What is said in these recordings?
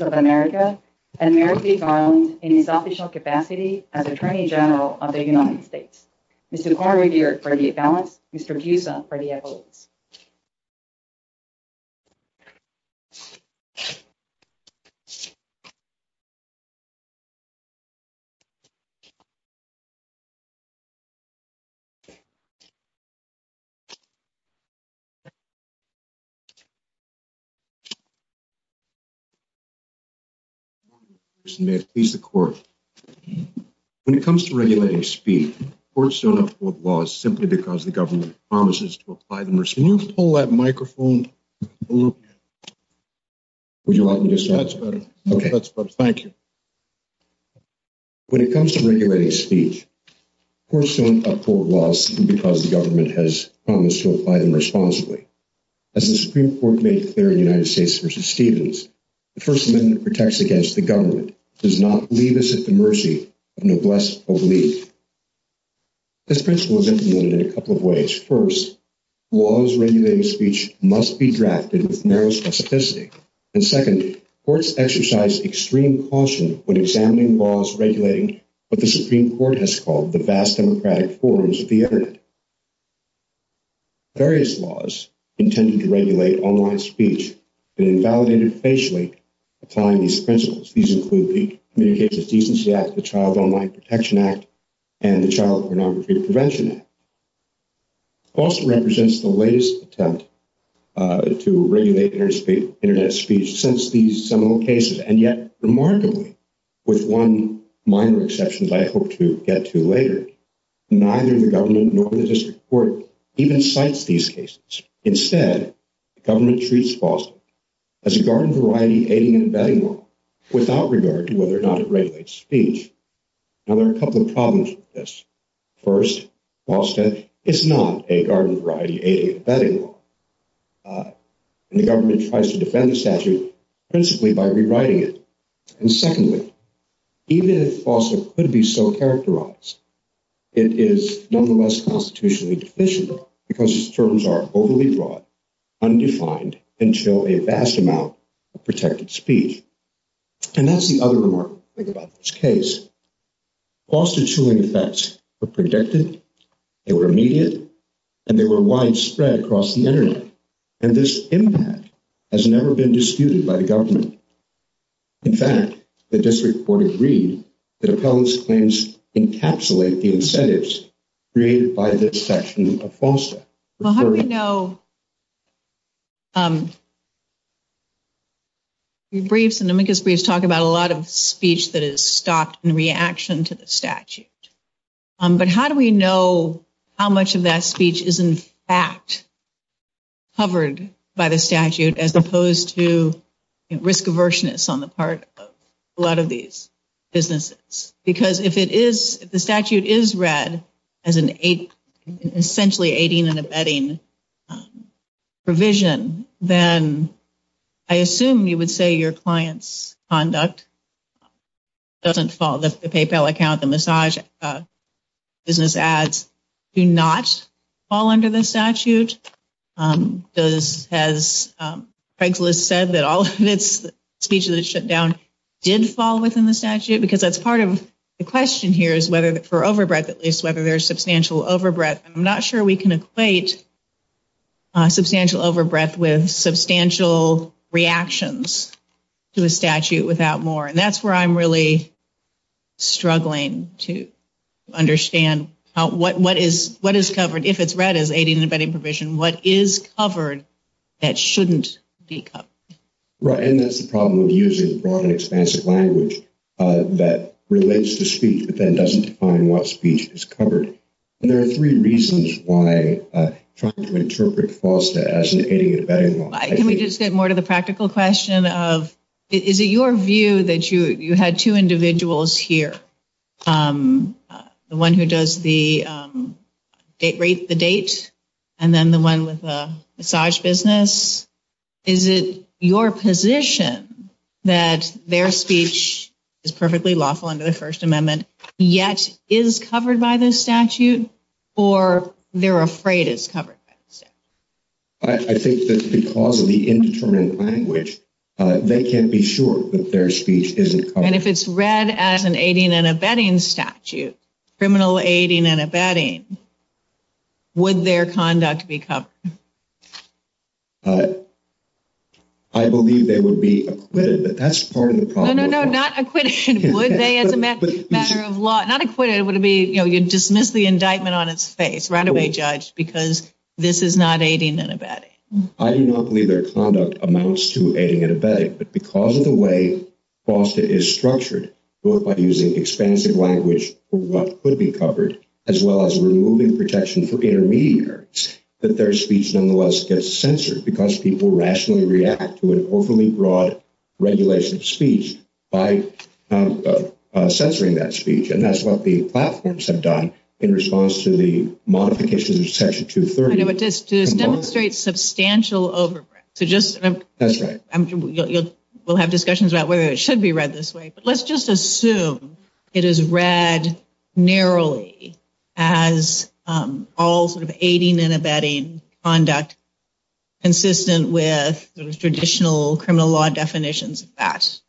of America, and Mary J. Garland, in his official capacity as Attorney General of the U.S. Mr. Kornredier for the About, Mr. Fusa for the About. When it comes to regulating speed, courts don't afford laws simply because the government has promised to apply them responsibly. As the Supreme Court made clear in the United States v. Stevens, the First Amendment protects against the government, does not leave us at the mercy of noblesse oblige. This principle is implemented in a couple of ways. First, laws regulating speech must be drafted with narrow specificity. And second, courts exercise extreme caution when examining laws regulating what the Supreme Court has called the vast democratic forms of the Internet. Various laws intended to regulate online speech have been validated patiently applying these principles. These include the Communications Decency Act, the Child Online Protection Act, and the Child Phonometry Prevention Act. FOSTA represents the latest attempt to regulate Internet speech since these seminal cases. And yet, remarkably, with one minor exception I hope to get to later, neither the government nor the District Court even cites these cases. Instead, the government treats FOSTA as a garden variety aiding and abetting law without regard to whether or not it regulates speech. Now there are a couple of problems with this. First, FOSTA is not a garden variety aiding and abetting law. The government tries to defend the statute principally by rewriting it. And secondly, even if FOSTA could be so characterized, it is nonetheless constitutionally deficient because its terms are overly broad, undefined, and show a vast amount of protected speech. And that's the other remarkable thing about this case. FOSTA-chewing effects were predicted, they were immediate, and they were widespread across the Internet. And this impact has never been disputed by the government. In fact, the District Court agreed that appellate's claims encapsulate the incentives created by this section of FOSTA. Well, how do we know... Your briefs and the Minkus briefs talk about a lot of speech that is stopped in reaction to the statute. But how do we know how much of that speech is in fact covered by the statute as opposed to risk aversionists on the part of a lot of these businesses? Because if the statute is read as an essentially aiding and abetting provision, then I assume you would say your client's conduct doesn't fall. The PayPal account, the massage, business ads do not fall under the statute. Does... Has Craigslist said that all of this speech that is shut down did fall within the statute? Because that's part of the question here is whether, for overbreath at least, whether there's substantial overbreath. I'm not sure we can equate substantial overbreath with substantial reactions to a statute without more. And that's where I'm really struggling to understand what is covered if it's read as an aiding and abetting provision. What is covered that shouldn't be covered? Right. And that's the problem with using broad and expansive language that relates to speech but then doesn't define what speech is covered. And there are three reasons why I try to interpret FOSTA as an aiding and abetting law. Can we just get more to the practical question of, is it your view that you had two individuals here, the one who does the date, rates the date, and then the one with the massage business? Is it your position that their speech is perfectly lawful under the First Amendment yet is covered by the statute or they're afraid it's covered by the statute? I think that's because of the indeterminate language. They can't be sure that their speech isn't covered. And if it's read as an aiding and abetting statute, criminal aiding and abetting, would their conduct be covered? I believe they would be acquitted, but that's part of the problem. No, no, no. Not acquitted. Would they? As a matter of law. Not acquitted. It would be, you know, you dismiss the indictment on its face. Right away judged because this is not aiding and abetting. I do not believe their conduct amounts to aiding and abetting. But because of the way FOSTA is structured, both by using expansive language for what could be covered, as well as removing protection for intermediaries, that their speech nonetheless gets censored because people rationally react to an overly broad regulation of speech by censoring that speech. And that's what the platforms have done in response to the modification of Section 230. To demonstrate substantial overbreadth. We'll have discussions about whether it should be read this way. But let's just assume it is read narrowly as all sort of aiding and abetting conduct consistent with traditional criminal law definitions of FAST.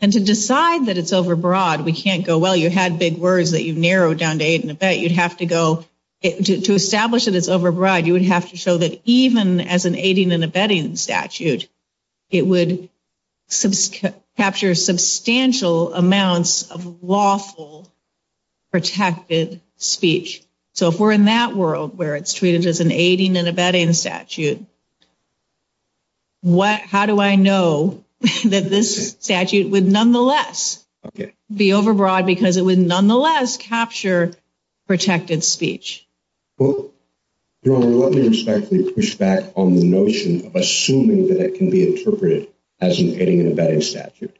And to decide that it's overbroad, we can't go, well, you had big words that you narrowed down to aid and abet. To establish that it's overbroad, you would have to show that even as an aiding and abetting statute, it would capture substantial amounts of lawful protected speech. So if we're in that world where it's treated as an aiding and abetting statute, how do I know that this statute would nonetheless be overbroad because it would nonetheless capture protected speech? Well, I want you to start to push back on the notion of assuming that it can be interpreted as an aiding and abetting statute.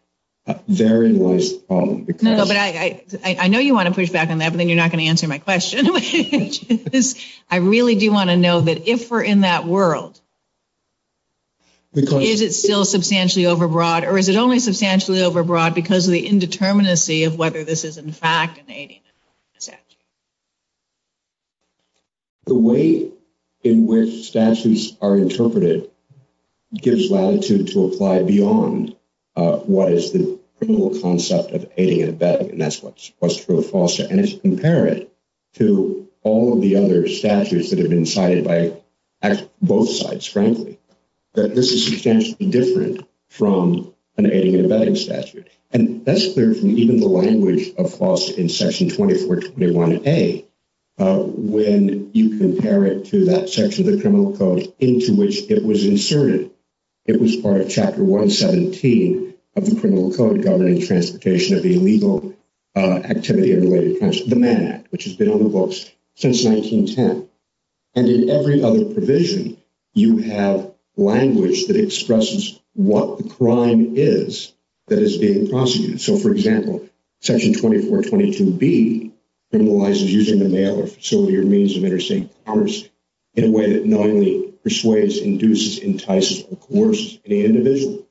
Therein lies the problem. No, but I know you want to push back on that, but then you're not going to answer my question. I really do want to know that if we're in that world, is it still substantially overbroad or is it only substantially overbroad because of the indeterminacy of whether this is in fact an aiding and abetting statute? The way in which statutes are interpreted gives latitude to apply beyond what is the principal concept of aiding and abetting, and that's what's true and false. And it's imperative to all of the other statutes that have been cited by both sides currently that this is substantially different from an aiding and abetting statute. And that's clear from even the language of false in Section 2421A when you compare it to that section of the Criminal Code into which it was inserted. It was part of Chapter 117 of the Criminal Code governing transportation of illegal activity in related countries, the Mann Act, which has been on the books since 1910. And in every other provision, you have language that expresses what the crime is that is being prosecuted. So, for example, Section 2422B criminalizes using the mail or facility or means of interstate commerce in a way that knowingly persuades, induces, entices, or coerces the individual.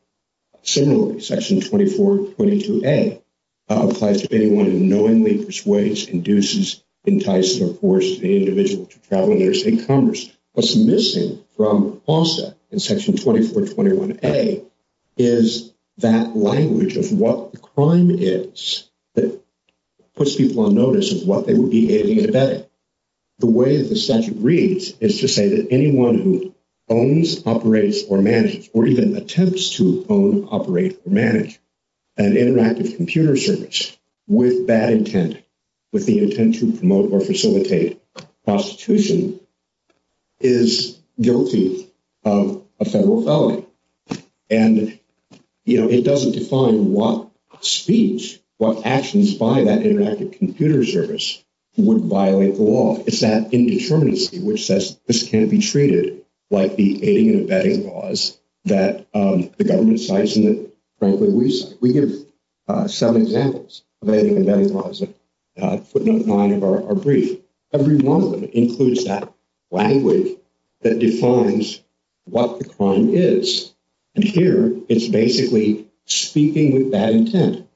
Similarly, Section 2422A applies to anyone who knowingly persuades, induces, entices, or forces the individual to travel interstate commerce. What's missing from FALSA in Section 2421A is that language of what the crime is that puts people on notice of what they would be aiding and abetting. The way that the statute reads is to say that anyone who owns, operates, or manages, or even attempts to own, operate, or manage an interactive computer service with that intent, with the intent to promote or facilitate prostitution, is guilty of a federal felony. And, you know, it doesn't define what speech, what actions by that interactive computer service would violate the law. It's that indeterminacy where it says, this can't be treated like the aiding and abetting laws that the government cites in the criminal research. We give seven examples of aiding and abetting laws that put them on our brief. Every one of them includes that language that defines what the crime is. And here, it's basically speaking with that intent.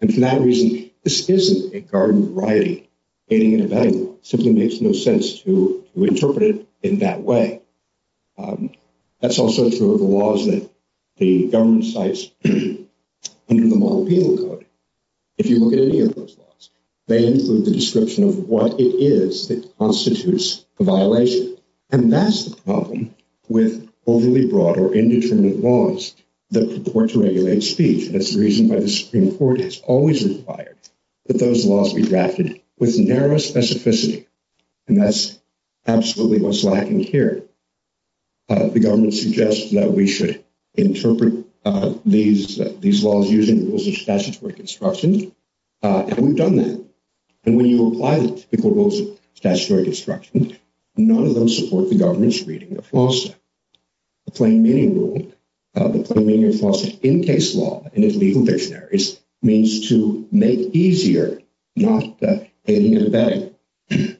And for that reason, this isn't a garden of writing, aiding and abetting. It simply makes no sense to interpret it in that way. That's also true of the laws that the government cites under the Multicultural Code. If you look at any of those laws, they include the description of what it is that constitutes a violation. And that's the problem with overly broad or indeterminate laws that purport to regulate speech. And that's the reason why the Supreme Court has always required that those laws be drafted with narrow specificity. And that's absolutely what's lacking here. The government suggests that we should interpret these laws using rules of statutory construction, and we've done that. And when you apply those rules of statutory construction, none of them support the government's reading of lawsuit. The plain meaning rule, the plain meaning of lawsuit in case law and in legal dictionaries means to make easier, not that aiding and abetting.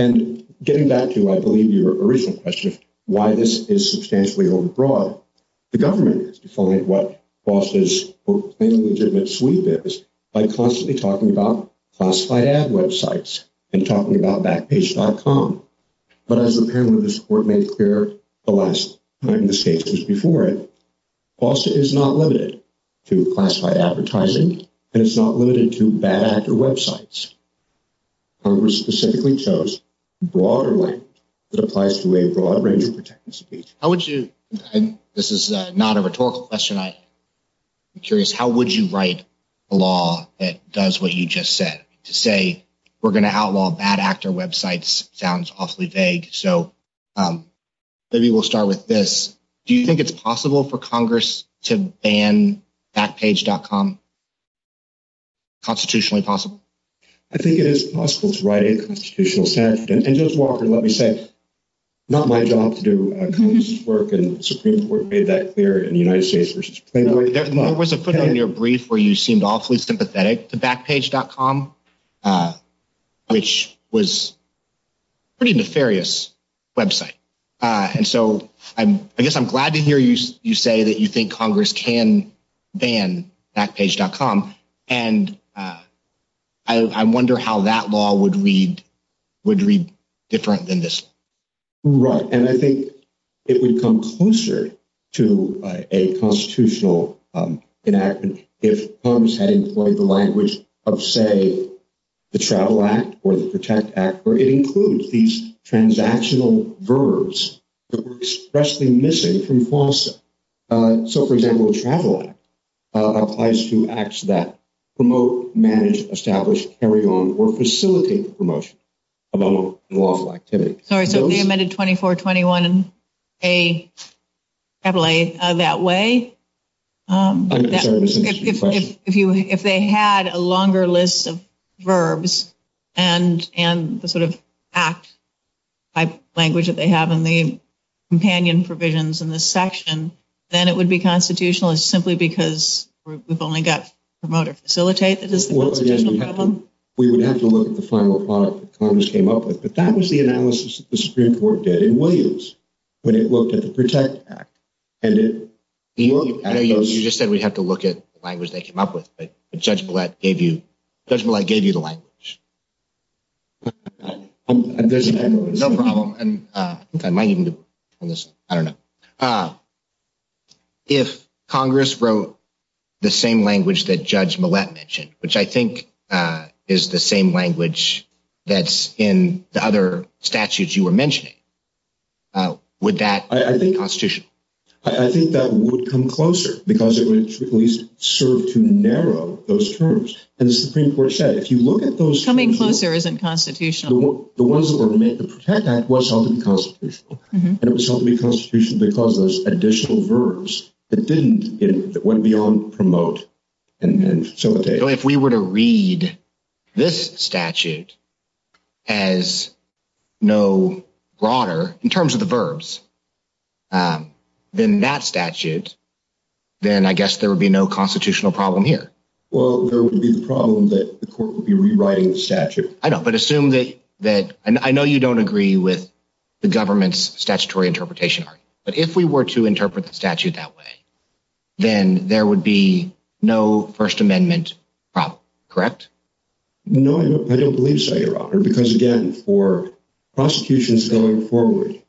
And getting back to, I believe, your original question of why this is substantially overbroad, the government is defaulting what FOSTA's legitimate sweep is by constantly talking about classified ad websites and talking about Backpage.com. But as the parent of this court made clear the last time this case was before it, FOSTA is not limited to classified advertising, and it's not limited to bad actor websites. Congress specifically chose broader language that applies to a broad range of protected speech. How would you, and this is not a rhetorical question, I'm curious, how would you write a law that does what you just said? To say we're going to outlaw bad actor websites sounds awfully vague, so maybe we'll start with this. Do you think it's possible for Congress to ban Backpage.com? Constitutionally possible? I think it is possible to write a constitutional statute, and just walk and let me say it's not my job to do Congress's work, and the Supreme Court made that clear in United States v. Plano. There was a point in your brief where you seemed awfully sympathetic to Backpage.com, which was a pretty nefarious website. I guess I'm glad to hear you say that you think Congress can ban Backpage.com, and I wonder how that law would read different than this. Right, and I think it would come closer to a constitutional enactment if Congress had a longer list of verbs. So, for example, a travel act applies to acts that promote, manage, establish, carry on, or facilitate the promotion of unlawful activity. So, it's a 24-21-A-A-A-A that way? I'm sorry, what did you say? If they had a longer list of verbs, and the sort of act-type language that they have in the companion provisions in this section, then it would be constitutional, simply because we've only got promote or facilitate that is the constitutional problem? We would have to look at the final product that Congress came up with, but that was the analysis that the Supreme Court did in Williams, when it looked at the Protect Act. You just said we have to look at the language they came up with, but Judge Millett gave you the language. If Congress wrote the same language that Judge Millett mentioned, which I think is the same language that's in the other statutes you were mentioning, would that be constitutional? I think that would come closer, because it would at least serve to narrow those terms. As the Supreme Court said, if you look at those... Coming closer isn't constitutional. The ones that were to make the Protect Act was ultimately constitutional, and it was ultimately constitutional because of those additional verbs that didn't, you know, that went beyond promote and facilitate. So if we were to read this statute as no broader, in terms of the verbs, than that statute, then I guess there would be no constitutional problem here. Well, there would be the problem that the court would be rewriting the statute. I know, but assume that... I know you don't agree with the government's statutory interpretation, but if we were to No, I don't believe so, Your Honor, because again, for prosecutions going forward,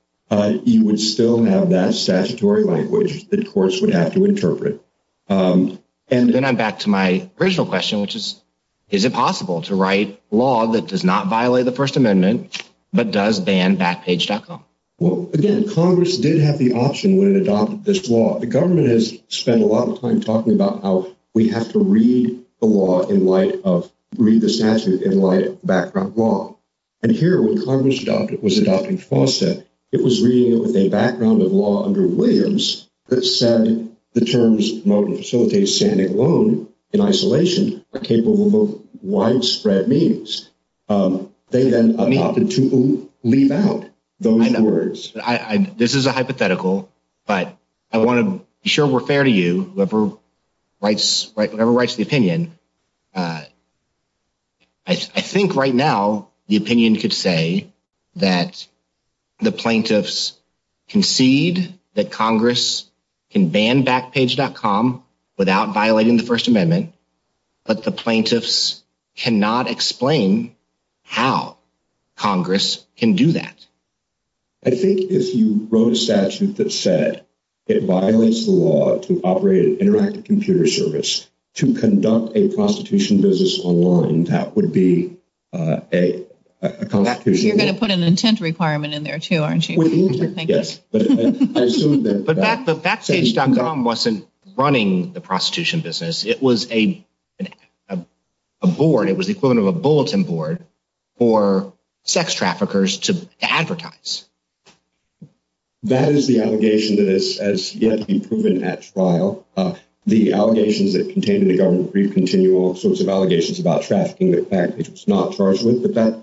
you would still have that statutory language that courts would have to interpret. And then I'm back to my original question, which is, is it possible to write law that does not violate the First Amendment, but does ban Backpage.com? Well, again, Congress did have the option when it adopted this law. The government has spent a lot of time talking about how we have to read the law in light of...read the statute in light of background law. And here, when Congress was adopting Fawcett, it was reading it with a background of law under Williams that said the terms promote and facilitate standing alone in isolation are capable of widespread means. They then opted to leave out those words. This is a hypothetical, but I want to be sure we're fair to you. Whoever writes the opinion, I think right now the opinion could say that the plaintiffs concede that Congress can ban Backpage.com without violating the First Amendment, but the plaintiffs cannot explain how Congress can do that. I think if you wrote a statute that said it violates the law to operate an interactive computer service to conduct a prostitution business online, that would be a... You're going to put an intent requirement in there too, aren't you? Yes. But Backpage.com wasn't running the prostitution business. It was a board. It was equivalent of a bulletin board for sex traffickers to advertise. That is the allegation that has yet to be proven at trial. The allegations that contained in the government brief continue all sorts of allegations about trafficking, the fact that it's not charged with the theft.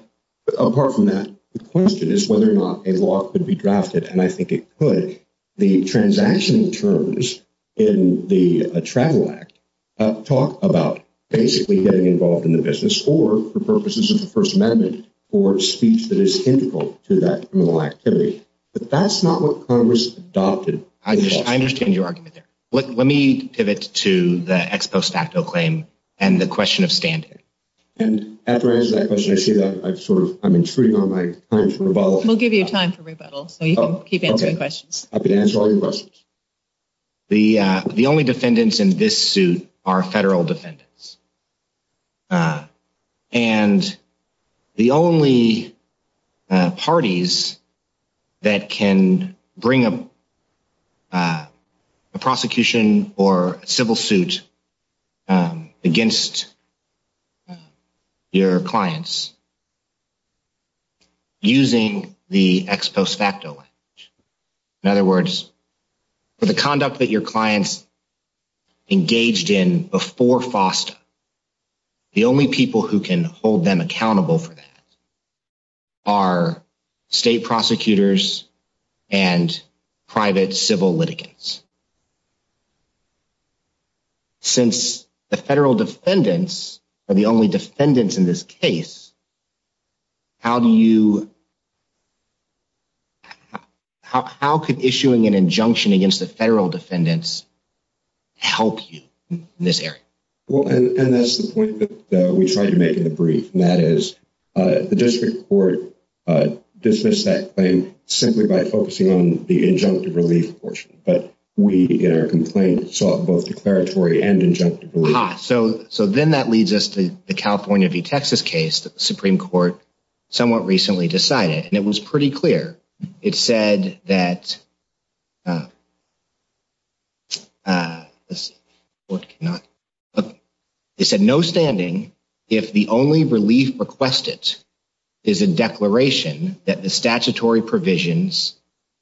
Apart from that, the question is whether or not a law could be drafted, and I think it could. I don't think the transactional terms in the Travel Act talk about basically getting involved in the business or the purposes of the First Amendment or speech that is indical to that criminal activity. But that's not what Congress adopted. I understand your argument there. Let me pivot to the ex post facto claim and the question of standing. And after answering that question, I see that I'm sort of... I'm intruding on my time for rebuttal. We'll give you time for rebuttal, so you can keep answering questions. I'll be answering questions. The only defendants in this suit are federal defendants. And the only parties that can bring a prosecution or civil suit against your clients using the ex post facto language. In other words, for the conduct that your clients engaged in before FOSTA, the only people who can hold them accountable for that are state prosecutors and private civil litigants. Since the federal defendants are the only defendants in this case, how do you... How could issuing an injunction against the federal defendants help you in this area? Well, and that's the point that we tried to make in the brief. And that is the district court dismissed that claim simply by focusing on the injunctive relief portion. But we, in our complaint, sought both declaratory and injunctive relief. So then that leads us to the California v. Texas case that the Supreme Court somewhat recently decided. And it was pretty clear. It said that... It said, no standing if the only relief requested is a declaration that the statutory provisions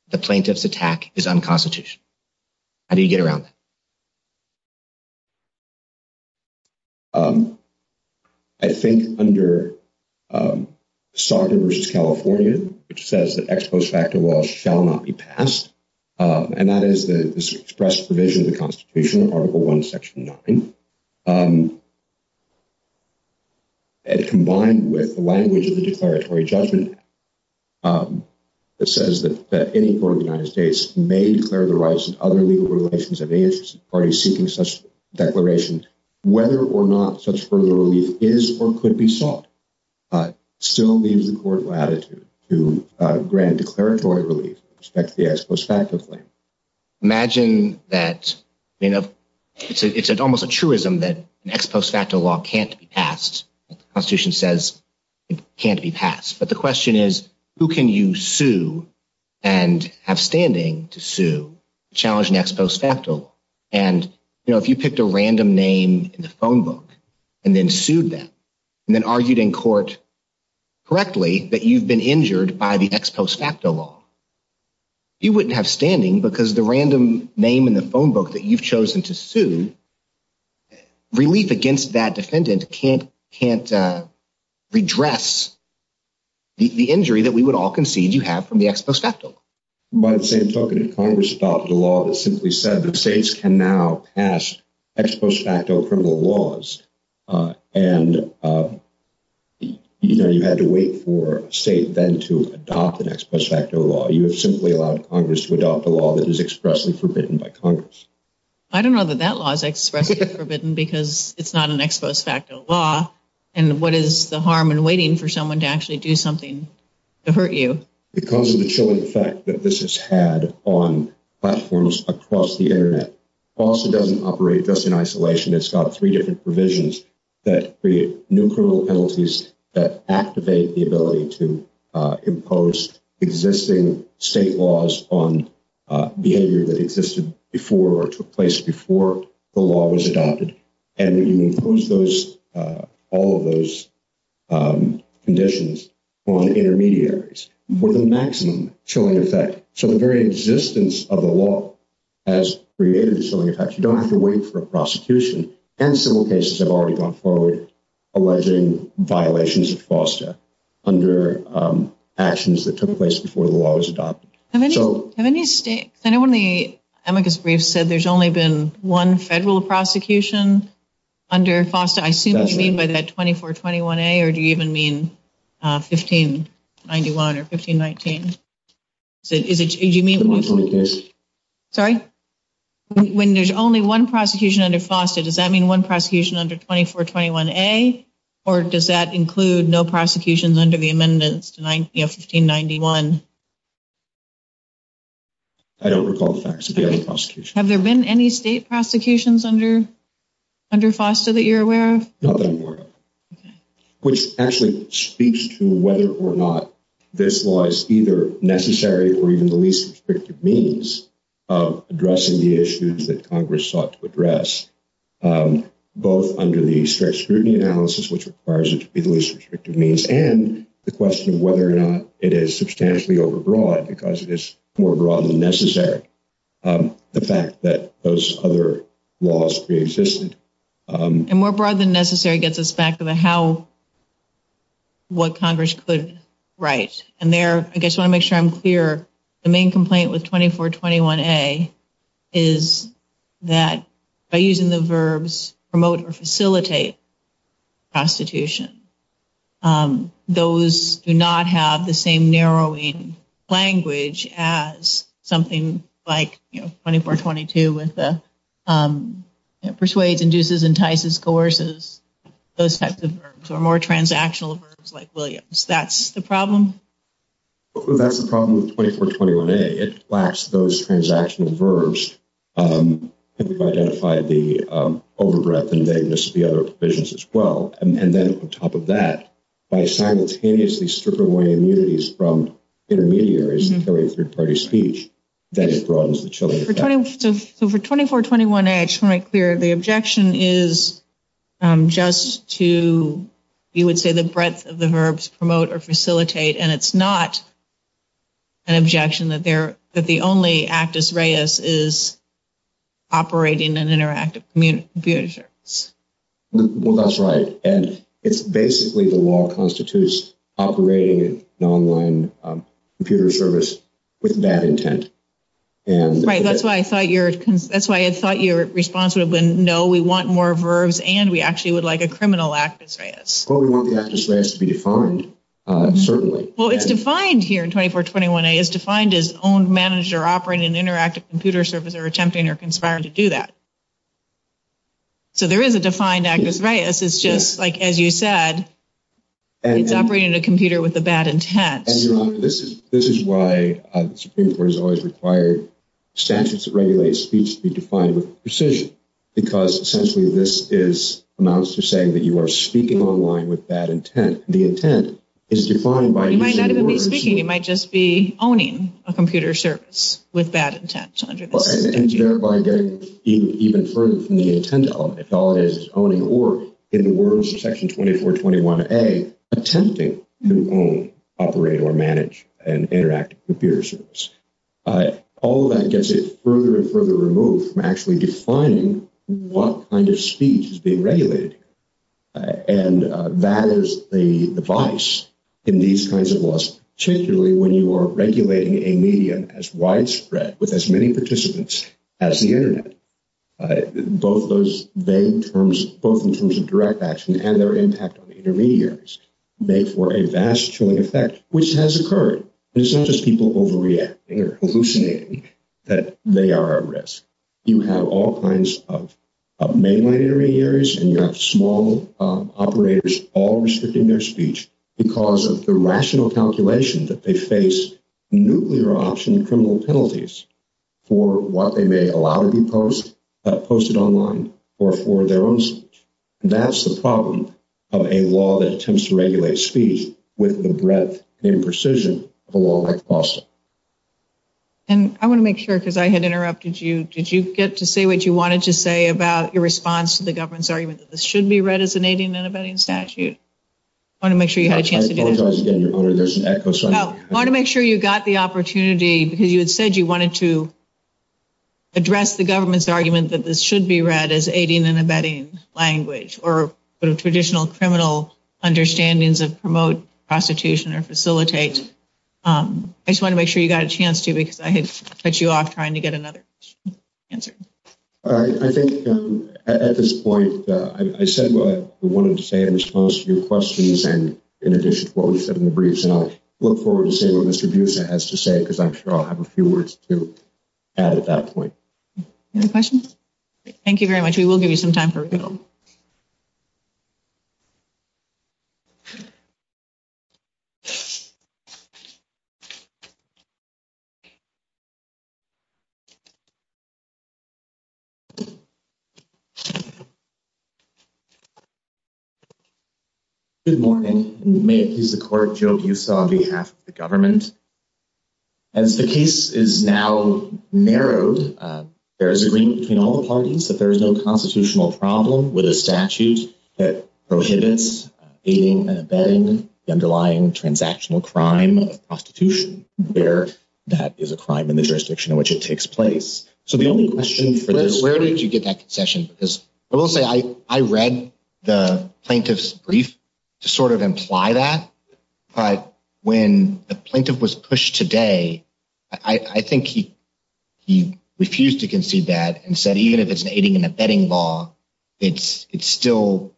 of the plaintiff's attack is unconstitutional. How do you get around that? I think under Saga v. California, it says that ex post facto law shall not be passed. And that is expressed provision of the Constitution in Article I, Section 9. And combined with the language of the declaratory judgment, it says that any court in the United States may declare the rights of other legal relations of any interest to the parties seeking such declarations. Whether or not such further relief is or could be sought still needs the court's latitude to grant declaratory relief in respect to the ex post facto claim. Imagine that, you know, it's almost a truism that ex post facto law can't be passed. The Constitution says it can't be passed. But the question is, who can you sue and have standing to sue, challenge an ex post facto law? And, you know, if you picked a random name in the phone book and then sued them and then argued in court correctly that you've been injured by the ex post facto law, you wouldn't have standing because the random name in the phone book that you've chosen to sue, relief against that defendant can't redress the injury that we would all concede you have from the ex post facto law. By the same token, if Congress adopted a law that simply said that states can now pass ex post facto criminal laws and, you know, you had to wait for a state then to adopt an ex post facto law, you have simply allowed Congress to adopt a law that is expressly forbidden by Congress. I don't know that that law is expressly forbidden because it's not an ex post facto law. And what is the harm in waiting for someone to actually do something to hurt you? Because of the chilling fact that this has had on platforms across the Internet, also doesn't operate just in isolation. It's got three different provisions that create new criminal penalties that activate the ability to impose existing state laws on behavior that existed before or took place before the law was adopted. And we can impose all of those conditions on intermediaries with a maximum chilling effect. So the very existence of the law has created a chilling effect. And civil cases have already gone forward alleging violations of FOSTA under actions that took place before the law was adopted. Have any states, anyone in the amicus brief said there's only been one federal prosecution under FOSTA? I see what you mean by that 2421A or do you even mean 1591 or 1519? Sorry? When there's only one prosecution under FOSTA, does that mean one prosecution under 2421A or does that include no prosecutions under the amendments to 1591? Have there been any state prosecutions under FOSTA that you're aware of? Not that I'm aware of. Which actually speaks to whether or not this law is either necessary or even the least restrictive means of addressing the issues that Congress sought to address, both under the strict scrutiny analysis, which requires it to be the least restrictive means, and the question of whether or not it is substantially overbroad because it is more broad than necessary. The fact that those other laws preexisted. And more broad than necessary gets us back to the how, what Congress could write. And there, I just want to make sure I'm clear, the main complaint with 2421A is that by using the verbs promote or facilitate prostitution, those do not have the same narrowing language as something like 2422 with persuades, induces, entices, coerces, those types of verbs, or more transactional verbs like Williams. That's the problem? That's the problem with 2421A. It lacks those transactional verbs to identify the overdraft and vagueness of the other provisions as well. And then on top of that, by simultaneously stripping away immunities from intermediaries and periods of third-party speech, that is a problem. So for 2421A, I just want to make clear, the objection is just to, you would say, the breadth of the verbs promote or facilitate, and it's not an objection that the only actus reus is operating an interactive computer service. Well, that's right. And it's basically the law constitutes operating an online computer service with that intent. Right. That's why I thought your response would have been, no, we want more verbs, and we actually would like a criminal actus reus. Well, we want the actus reus to be defined, certainly. Well, it's defined here in 2421A. It's defined as owned, managed, or operating an interactive computer service or attempting or conspiring to do that. So there is a defined actus reus. It's just like, as you said, it's operating a computer with a bad intent. And, you know, this is why Supreme Court has always required statutes that regulate speech to be defined with precision, because essentially this amounts to saying that you are speaking online with bad intent. The intent is defined by using words. You might not even be speaking. You might just be owning a computer service with bad intent. And it's verified even further from the intent element. It validates its own in the words of Section 2421A, attempting to own, operate, or manage an interactive computer service. All of that gets it further and further removed from actually defining what kind of speech is being regulated. And that is the device in these kinds of laws, particularly when you are regulating a medium as widespread with as many participants as the Internet. Both those vague terms, both in terms of direct action and their impact on intermediaries, make for a vast effect, which has occurred. It's not just people overreacting or hallucinating that they are at risk. You have all kinds of mainland intermediaries and you have small operators all restricting their speech because of the rational calculation that they face nuclear option criminal penalties for what they may allow to be posted online or for their own. That's the problem of a law that attempts to regulate speech with the breadth and imprecision of a law like FOSTA. And I want to make sure, because I had interrupted you, did you get to say what you wanted to say about your response to the government's argument that this should be read as an 18 in abetting statute? I want to make sure you had a chance to get it. I want to make sure you got the opportunity, because you had said you wanted to address the government's argument that this should be read as 18 in abetting language or traditional criminal understandings of promote prostitution or facilitate. I just want to make sure you got a chance to, because I could cut you off trying to get another answer. I think at this point, I said what I wanted to say. I was close to your questions and in addition to what we said in the briefs, and I look forward to seeing what Mr. Buzia has to say, because I'm sure I'll have a few words to add at that point. Any questions? Thank you very much. We will give you some time for people. Good morning, and may it please the court, Joe Buzia on behalf of the government. As the case is now narrowed, there is agreement between all the parties that there is no constitutional problem with a statute that prohibits aiding and abetting the underlying transactional crime of prostitution, where that is a crime in the jurisdiction in which it takes place. Where did you get that concession? Because I will say I read the plaintiff's brief to sort of imply that, but when the plaintiff was pushed today, I think he refused to concede that and said even if it's aiding and abetting law, it still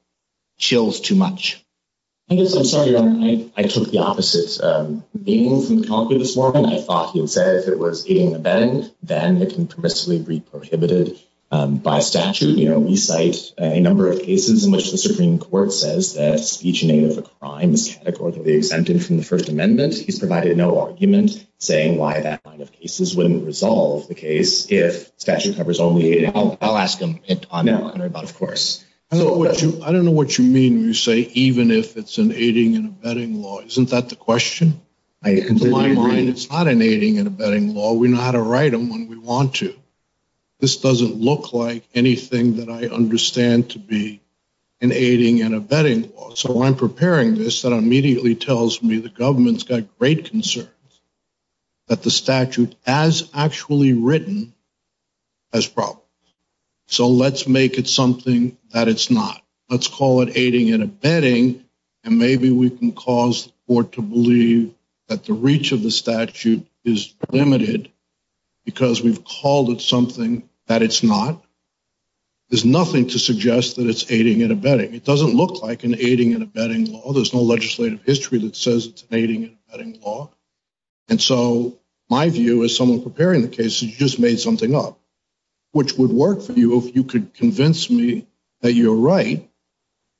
chills too much. I'm sorry, I took the opposite. I thought he said if it was aiding and abetting, then it can be prohibited by statute. We cite a number of cases in which the Supreme Court says that each name of a crime is categorically exempting from the First Amendment. He's provided no argument saying why that kind of case wouldn't resolve the case if statute covers only aiding and abetting. I'll ask him to comment on that, of course. I don't know what you mean when you say even if it's an aiding and abetting law. Isn't that the question? In my mind, it's not an aiding and abetting law. We know how to write them when we want to. This doesn't look like anything that I understand to be an aiding and abetting law. So I'm preparing this that immediately tells me the government's got great concerns that the statute as actually written has problems. So let's make it something that it's not. Let's call it aiding and abetting, and maybe we can cause the court to believe that the reach of the statute is limited because we've called it something that it's not. There's nothing to suggest that it's aiding and abetting. It doesn't look like an aiding and abetting law. There's no legislative history that says it's an aiding and abetting law. And so my view as someone preparing the case is you just made something up, which would work for you if you could convince me that you're right,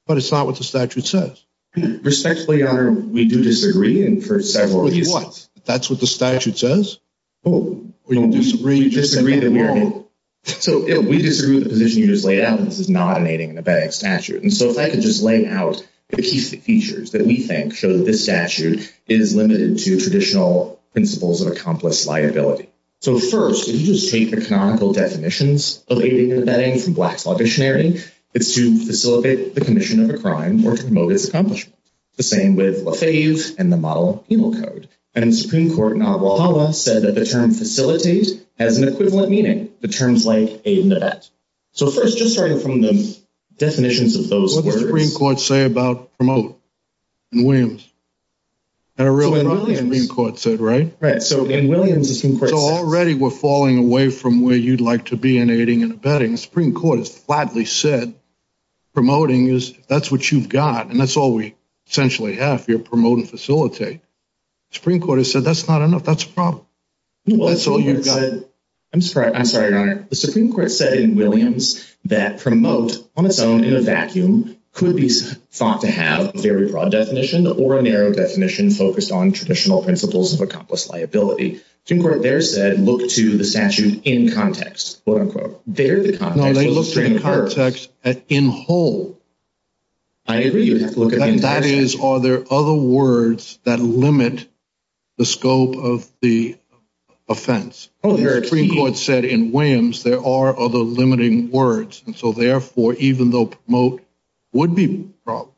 but it's not what the statute says. Respectfully, Your Honor, we do disagree, and for several reasons. That's what the statute says? We disagree, disagree, disagree. So we disagree with the position you just laid out that this is not an aiding and abetting statute. And so if I could just lay house the key features that we think show that this statute is limited to traditional principles of accomplished liability. So first, if you just take the canonical definitions of aiding and abetting from Black Law Dictionary, it's to facilitate the commission of a crime or to promote its accomplishment. The same with a phase and the model of penal code. And the Supreme Court in Honolulu said that the term facilities has an equivalent meaning to terms like aid and abet. So first, just starting from the definitions of those terms. What did the Supreme Court say about promote in Williams? In Williams. That's what the Supreme Court said, right? Right. So in Williams... So already we're falling away from where you'd like to be in aiding and abetting. The Supreme Court has flatly said promoting is, that's what you've got, and that's all we essentially have here, promote and facilitate. The Supreme Court has said that's not enough, that's a problem. That's all you've got. I'm sorry, Your Honor. The Supreme Court said in Williams that promote on its own in a vacuum could be thought to have a very broad definition or a narrow definition focused on traditional principles of accomplished liability. The Supreme Court there said look to the statute in context. When they look to the context in whole, that is, are there other words that limit the scope of the offense? The Supreme Court said in Williams there are other limiting words. And so therefore, even though promote would be a problem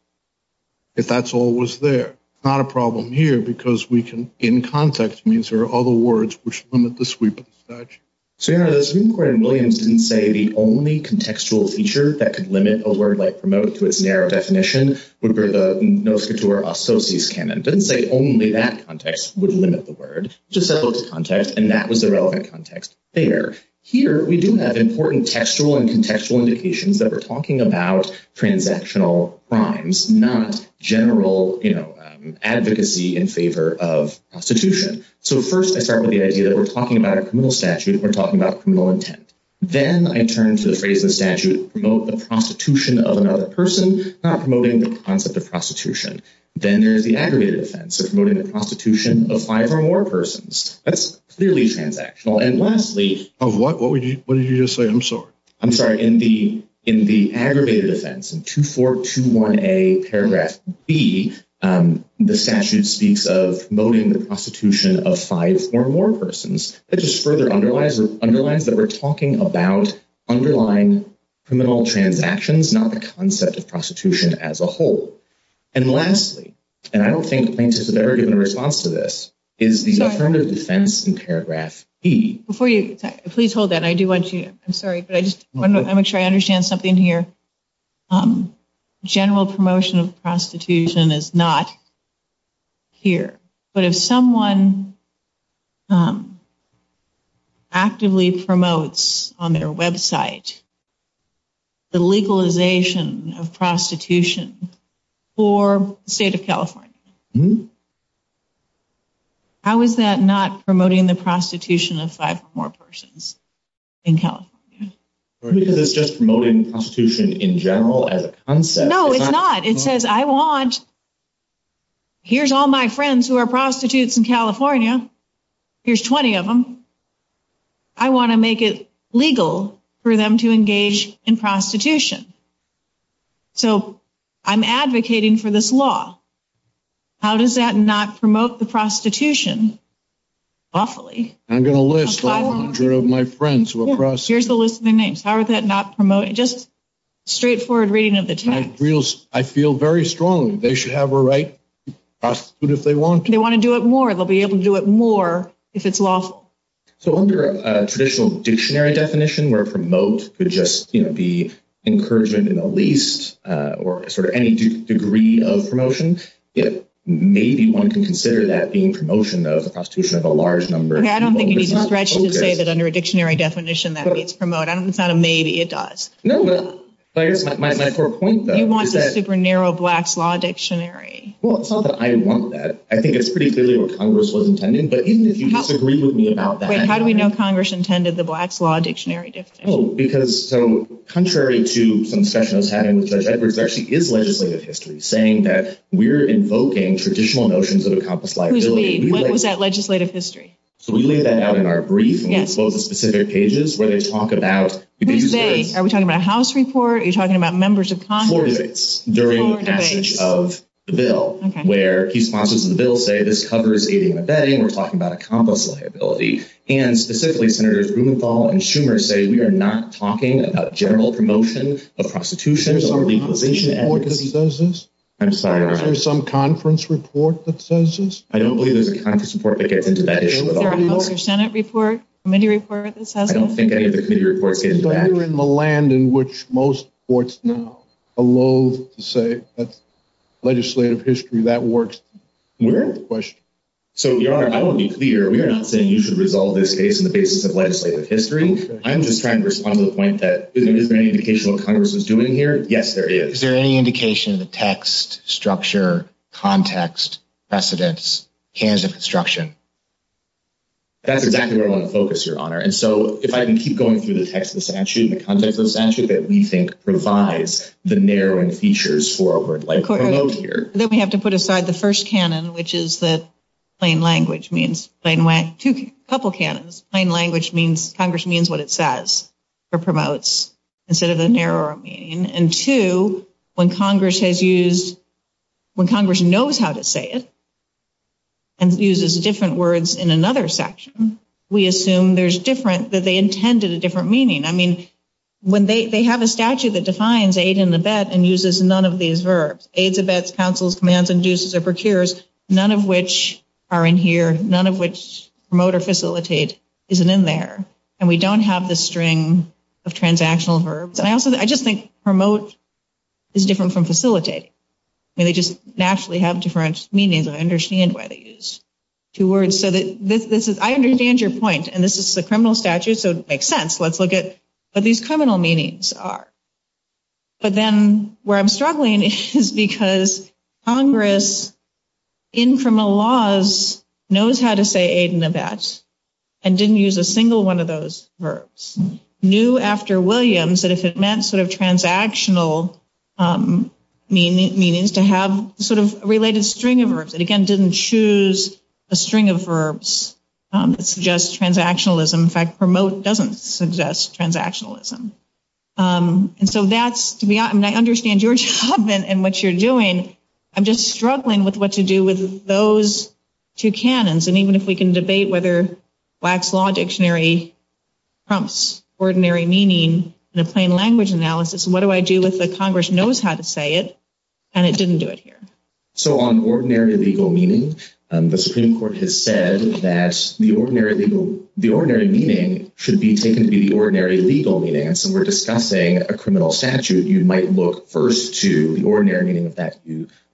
if that's all was there, it's not a problem here because we can, in context means there are other words which limit the sweep of the statute. So Your Honor, the Supreme Court in Williams didn't say the only contextual feature that could limit a word like promote to its narrow definition would be the Moscator Associates Canon. It didn't say only that context would limit the word. It just said look to context, and that was the relevant context there. Here we do have important textual and contextual indications that we're talking about transactional crimes, not general advocacy in favor of prostitution. So first I start with the idea that we're talking about a criminal statute. We're talking about criminal intent. Then I turn to the phrase in the statute, promote the prostitution of another person, not promoting the concept of prostitution. Then there's the aggregated offense, so promoting the prostitution of five or more persons. That's clearly transactional. And lastly... Oh, what? What did you just say? I'm sorry. I'm sorry. In the aggregated offense, in 2421A paragraph B, the statute speaks of promoting the prostitution of five or more persons. It just further underlines that we're talking about underlying criminal transactions, not the concept of prostitution as a whole. And lastly, and I don't think there's a better given response to this, is the affirmative defense in paragraph E. Before you... Please hold that. I do want to... I'm sorry, but I just want to make sure I understand something here. General promotion of prostitution is not here. But if someone actively promotes on their website the legalization of prostitution for the state of California, how is that not promoting the prostitution of five or more persons in California? It's just promoting prostitution in general as a concept. No, it's not. It says, I want... Here's all my friends who are prostitutes in California. Here's 20 of them. I want to make it legal for them to engage in prostitution. So I'm advocating for this law. How does that not promote the prostitution lawfully? I'm going to list all of my friends who are prostitutes. Here's the list of their names. How is that not promoting... Just straightforward reading of the text. I feel very strongly they should have a right to prostitute if they want to. They want to do it more. They'll be able to do it more if it's lawful. So under a traditional dictionary definition where promote would just be encouragement in the least or sort of any degree of promotion, maybe one can consider that being promotion of the prostitution of a large number... I don't think it's necessary to say that under a dictionary definition that it's promote. It's not a maybe. It does. No, but I guess my core point is that... They want the super narrow black law dictionary. I want that. I think it's pretty clearly what Congress was intending. But even if you disagree with me about that... How do we know Congress intended the black law dictionary definition? Contrary to some sessions having with Judge Edwards, there actually is legislative history saying that we're invoking traditional notions of accomplished liability. What was that legislative history? We laid that out in our brief and we spoke with specific pages where they talk about... Are we talking about a house report? Are you talking about members of Congress? During the passage of the bill, where key sponsors of the bill say, this covers ADA and we're talking about accomplished liability, and specifically Senators Rubenfall and Schumer say, we are not talking about general promotion of prostitution. There's some legalization effort that says this. I'm sorry. There's some conference report that says this. I don't believe there's a conference report that gets into that issue at all. Senate report? Committee report that says this? I don't think any of the committee reports get into that. We're not even in the land in which most courts now allow to say that legislative history, that works. We're in the question. Your Honor, I want to be clear. We're not saying you should resolve this case on the basis of legislative history. I'm just trying to respond to the point that is there any indication of what Congress is doing here? Yes, there is. Is there any indication of the text, structure, context, precedence, hands of construction? That's exactly where I want to focus, Your Honor. If I can keep going through the text of the statute, the context of the statute, that we think provides the narrowing features for a word like promote here. Then we have to put aside the first canon, which is that plain language means. A couple of canons. Plain language means Congress means what it says or promotes instead of the narrower meaning. And two, when Congress knows how to say it and uses different words in another section, we assume that they intended a different meaning. I mean, they have a statute that defines aid and abet and uses none of these verbs. Aids, abets, counsels, commands, abuses, or procures, none of which are in here. None of which promote or facilitate isn't in there. And we don't have the string of transactional verbs. I just think promote is different from facilitate. They just naturally have different meanings. I understand why they use two words. I understand your point. And this is a criminal statute, so it makes sense. Let's look at what these criminal meanings are. But then where I'm struggling is because Congress, in criminal laws, knows how to say aid and abets and didn't use a single one of those verbs. Congress knew after Williams that if it meant sort of transactional meanings, to have sort of a related string of verbs. It, again, didn't choose a string of verbs that suggests transactionalism. In fact, promote doesn't suggest transactionalism. And so that's, and I understand your job and what you're doing. I'm just struggling with what to do with those two canons. And even if we can debate whether Black's Law Dictionary prompts ordinary meaning in a plain language analysis, what do I do if the Congress knows how to say it and it didn't do it here? So on ordinary legal meaning, the Supreme Court has said that the ordinary meaning should be taken to be the ordinary legal meaning. And so we're discussing a criminal statute. You might look first to the ordinary meaning of that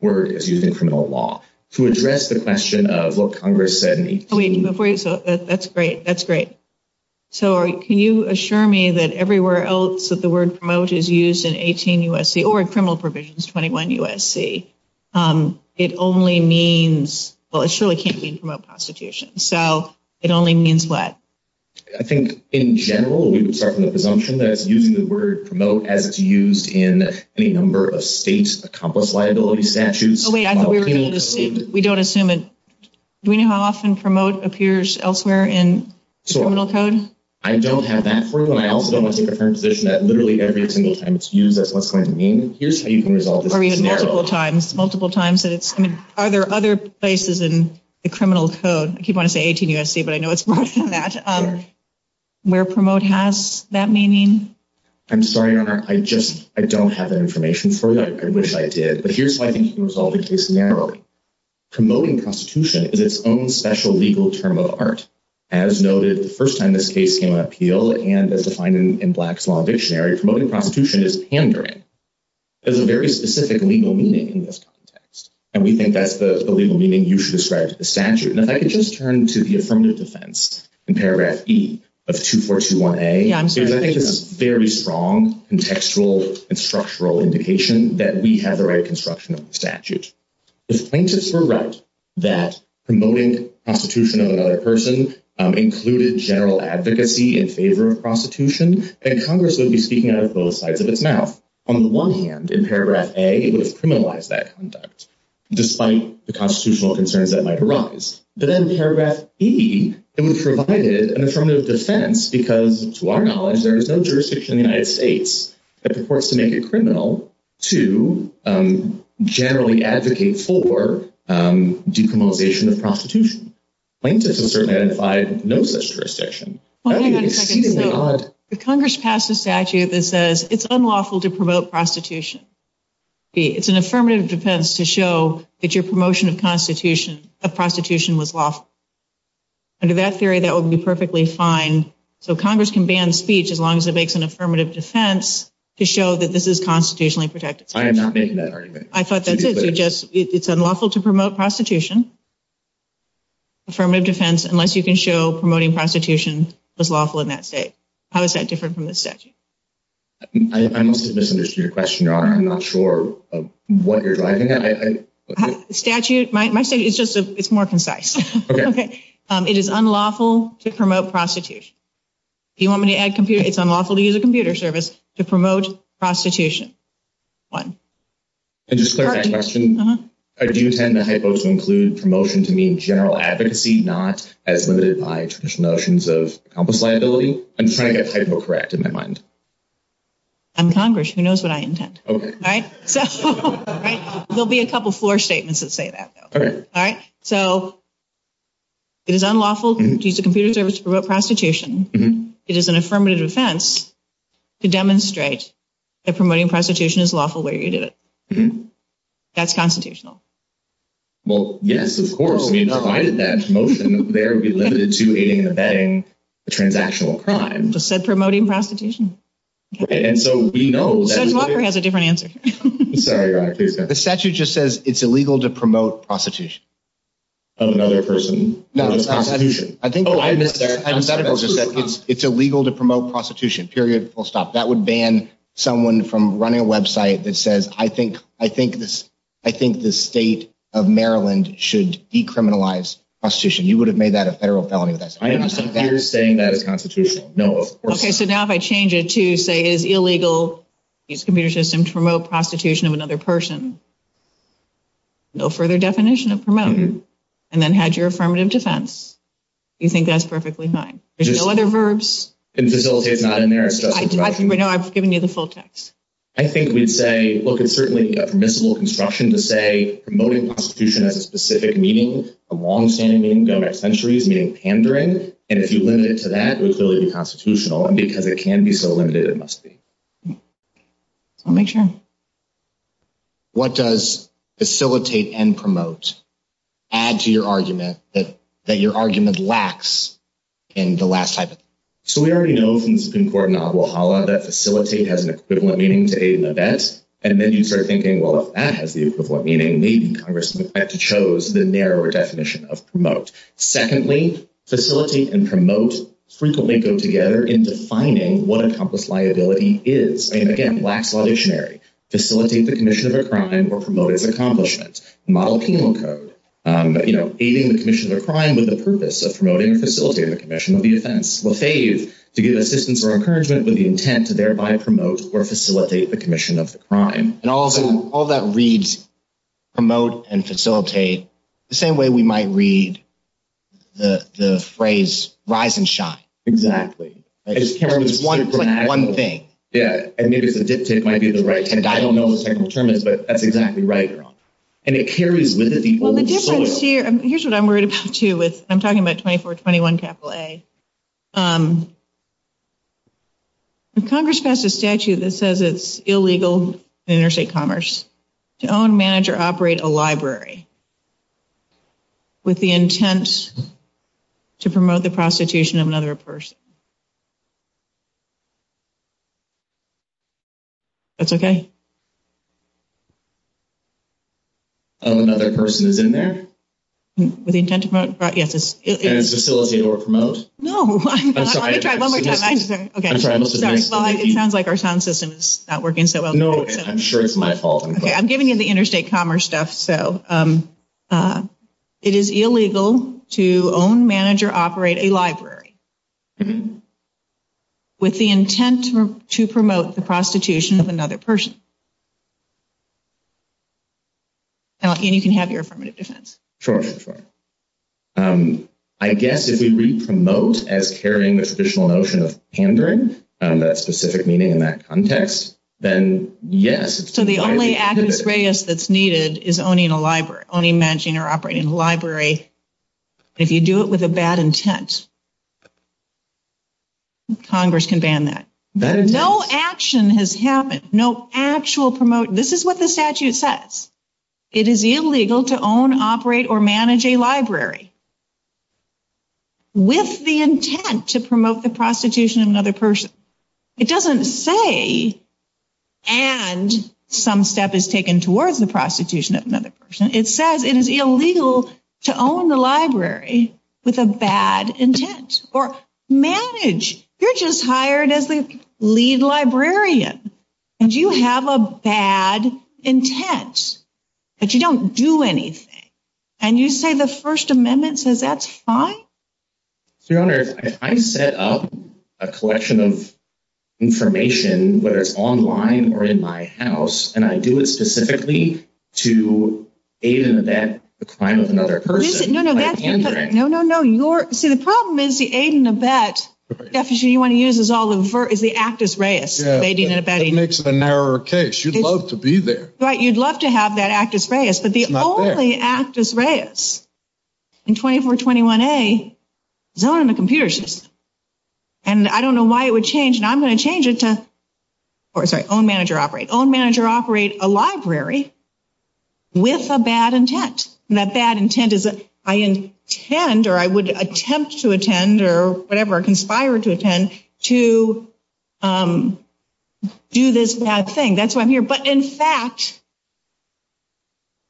word as using criminal law. To address the question of what Congress said in 18… That's great. That's great. So can you assure me that everywhere else that the word promote is used in 18 U.S.C., or in criminal provisions 21 U.S.C., it only means, well, it surely can't mean promote prostitution. So it only means what? I think, in general, we would start from the presumption that using the word promote as it's used in any number of state's accomplished liability statutes. Oh, wait. We don't assume it. Do we know how often promote appears elsewhere in criminal code? I don't have that for you. I also don't think the current provision that literally every single time it's used, that's what it's going to mean. Or even multiple times. Multiple times. Are there other places in the criminal code? I keep wanting to say 18 U.S.C., but I know it's more than that. Where promote has that meaning? I'm sorry, Your Honor. I just don't have that information for you. I wish I did. But here's how I think you can resolve this case narrowly. Promoting prostitution is its own special legal term of art. As noted, the first time this case came to appeal, and as defined in Black's Law Dictionary, promoting prostitution is pandering. There's a very specific legal meaning in this context. And we think that's the legal meaning you should ascribe to the statute. And if I could just turn to the affirmative defense in Paragraph E of 2421A, because I think it's a very strong contextual and structural indication that we have the right construction of the statute. If plaintiffs were right that promoting prostitution of another person included general advocacy in favor of prostitution, then Congress would be speaking out of both sides of its mouth. On the one hand, in Paragraph A, it would criminalize that conduct, despite the constitutional concerns that might arise. But then in Paragraph E, it would provide an affirmative defense because, to our knowledge, there is no jurisdiction in the United States that purports to make a criminal to generally advocate for decriminalization of prostitution. Plaintiffs have certainly identified no such jurisdiction. Congress passed a statute that says it's unlawful to promote prostitution. It's an affirmative defense to show that your promotion of prostitution was lawful. Under that theory, that would be perfectly fine. So Congress can ban speech as long as it makes an affirmative defense to show that this is constitutionally protected. I thought that's it. It's unlawful to promote prostitution. Affirmative defense, unless you can show promoting prostitution is lawful in that state. How is that different from the statute? I must have misunderstood your question. I'm not sure what you're driving at. Statute? My statement is more concise. Okay. It is unlawful to promote prostitution. Do you want me to add computer? It's unlawful to use a computer service to promote prostitution. Do you intend the hypo to include promotion to mean general advocacy, not as limited by traditional notions of accomplice liability? I'm trying to get hypo correct in my mind. I'm Congress. Who knows what I intend? Okay. There will be a couple floor statements that say that. Okay. So it is unlawful to use a computer service to promote prostitution. It is an affirmative defense to demonstrate that promoting prostitution is lawful where you do it. That's constitutional. Well, yes, of course. Why is that? Promotion there would be limited to a bank transactional crime. It said promoting prostitution. And so we know that... Judge Walker has a different answer. The statute just says it's illegal to promote prostitution. Of another person. Oh, I missed that. It's illegal to promote prostitution. Period. Full stop. That would ban someone from running a website that says, I think the state of Maryland should decriminalize prostitution. You would have made that a federal felony. You're saying that is constitutional. Okay. So now if I change it to say it is illegal to use a computer system to promote prostitution of another person. No further definition of promoting. And then had your affirmative defense. You think that's perfectly fine. There's still other verbs. And facilitate is not in there. No, I've given you the full text. I think we'd say, look, it's certainly a permissible construction to say promoting prostitution has a specific meaning. A longstanding meaning going back centuries meaning pandering. And if you limit it to that, it's really unconstitutional. And because it can be so limited, it must be. I'll make sure. What does facilitate and promote add to your argument that your argument lacks in the last? So we already know that facilitate has an equivalent meaning to aid and abet. And then you start thinking, well, if that has the equivalent meaning, maybe Congress would have to chose the narrower definition of promote. Secondly, facilitate and promote frequently go together in defining what a Trumpist liability is. And, again, lacks a dictionary. Facilitate the commission of a crime or promote its accomplishments. Model penal code. Aiding the commission of a crime with the purpose of promoting and facilitating the commission of the offense. Will fail you to give assistance or encouragement with the intent to thereby promote or facilitate the commission of the crime. And also, all that reads promote and facilitate the same way we might read the phrase rise and shine. Exactly. One thing. Yeah. I don't know. But that's exactly right. And it carries with it. Here's what I'm worried about, too. I'm talking about 24, 21. Capital A. Congress passed a statute that says it's illegal interstate commerce to own, manage or operate a library. With the intent to promote the prostitution of another person. That's okay. Of another person who's in there. With the intent to promote. And facilitate or promote. No. I'm sorry. One more time. I'm sorry. It sounds like our sound system is not working so well. No, I'm sure it's my fault. Okay. So, it is illegal to own, manage or operate a library. With the intent to promote the prostitution of another person. And you can have your affirmative defense. Sure. Sure. I guess if we read promote as carrying the traditional notion of pandering, that specific meaning in that context, then yes. So, the only evidence that's needed is owning a library. Owning, managing or operating a library. If you do it with a bad intent, Congress can ban that. No action has happened. No actual promote. This is what the statute says. It is illegal to own, operate or manage a library. With the intent to promote the prostitution of another person. It doesn't say and some step is taken towards the prostitution of another person. It says it is illegal to own the library with a bad intent. Or manage. You're just hired as the lead librarian. And you have a bad intent. But you don't do anything. And you say the First Amendment says that's fine? Your Honor, I set up a collection of information whether it's online or in my house. And I do it specifically to aid and abet the crime of another person. No, no, no. See, the problem is the aid and abet definition you want to use is the actus reus. It makes it a narrower case. You'd love to be there. Right. You'd love to have that actus reus. But the only actus reus. And I don't know why it would change. I'm going to change it to own, manage or operate. Own, manage or operate a library with a bad intent. And that bad intent is I intend or I would attempt to attend or whatever, conspire to attend to do this bad thing. That's why I'm here. But in fact,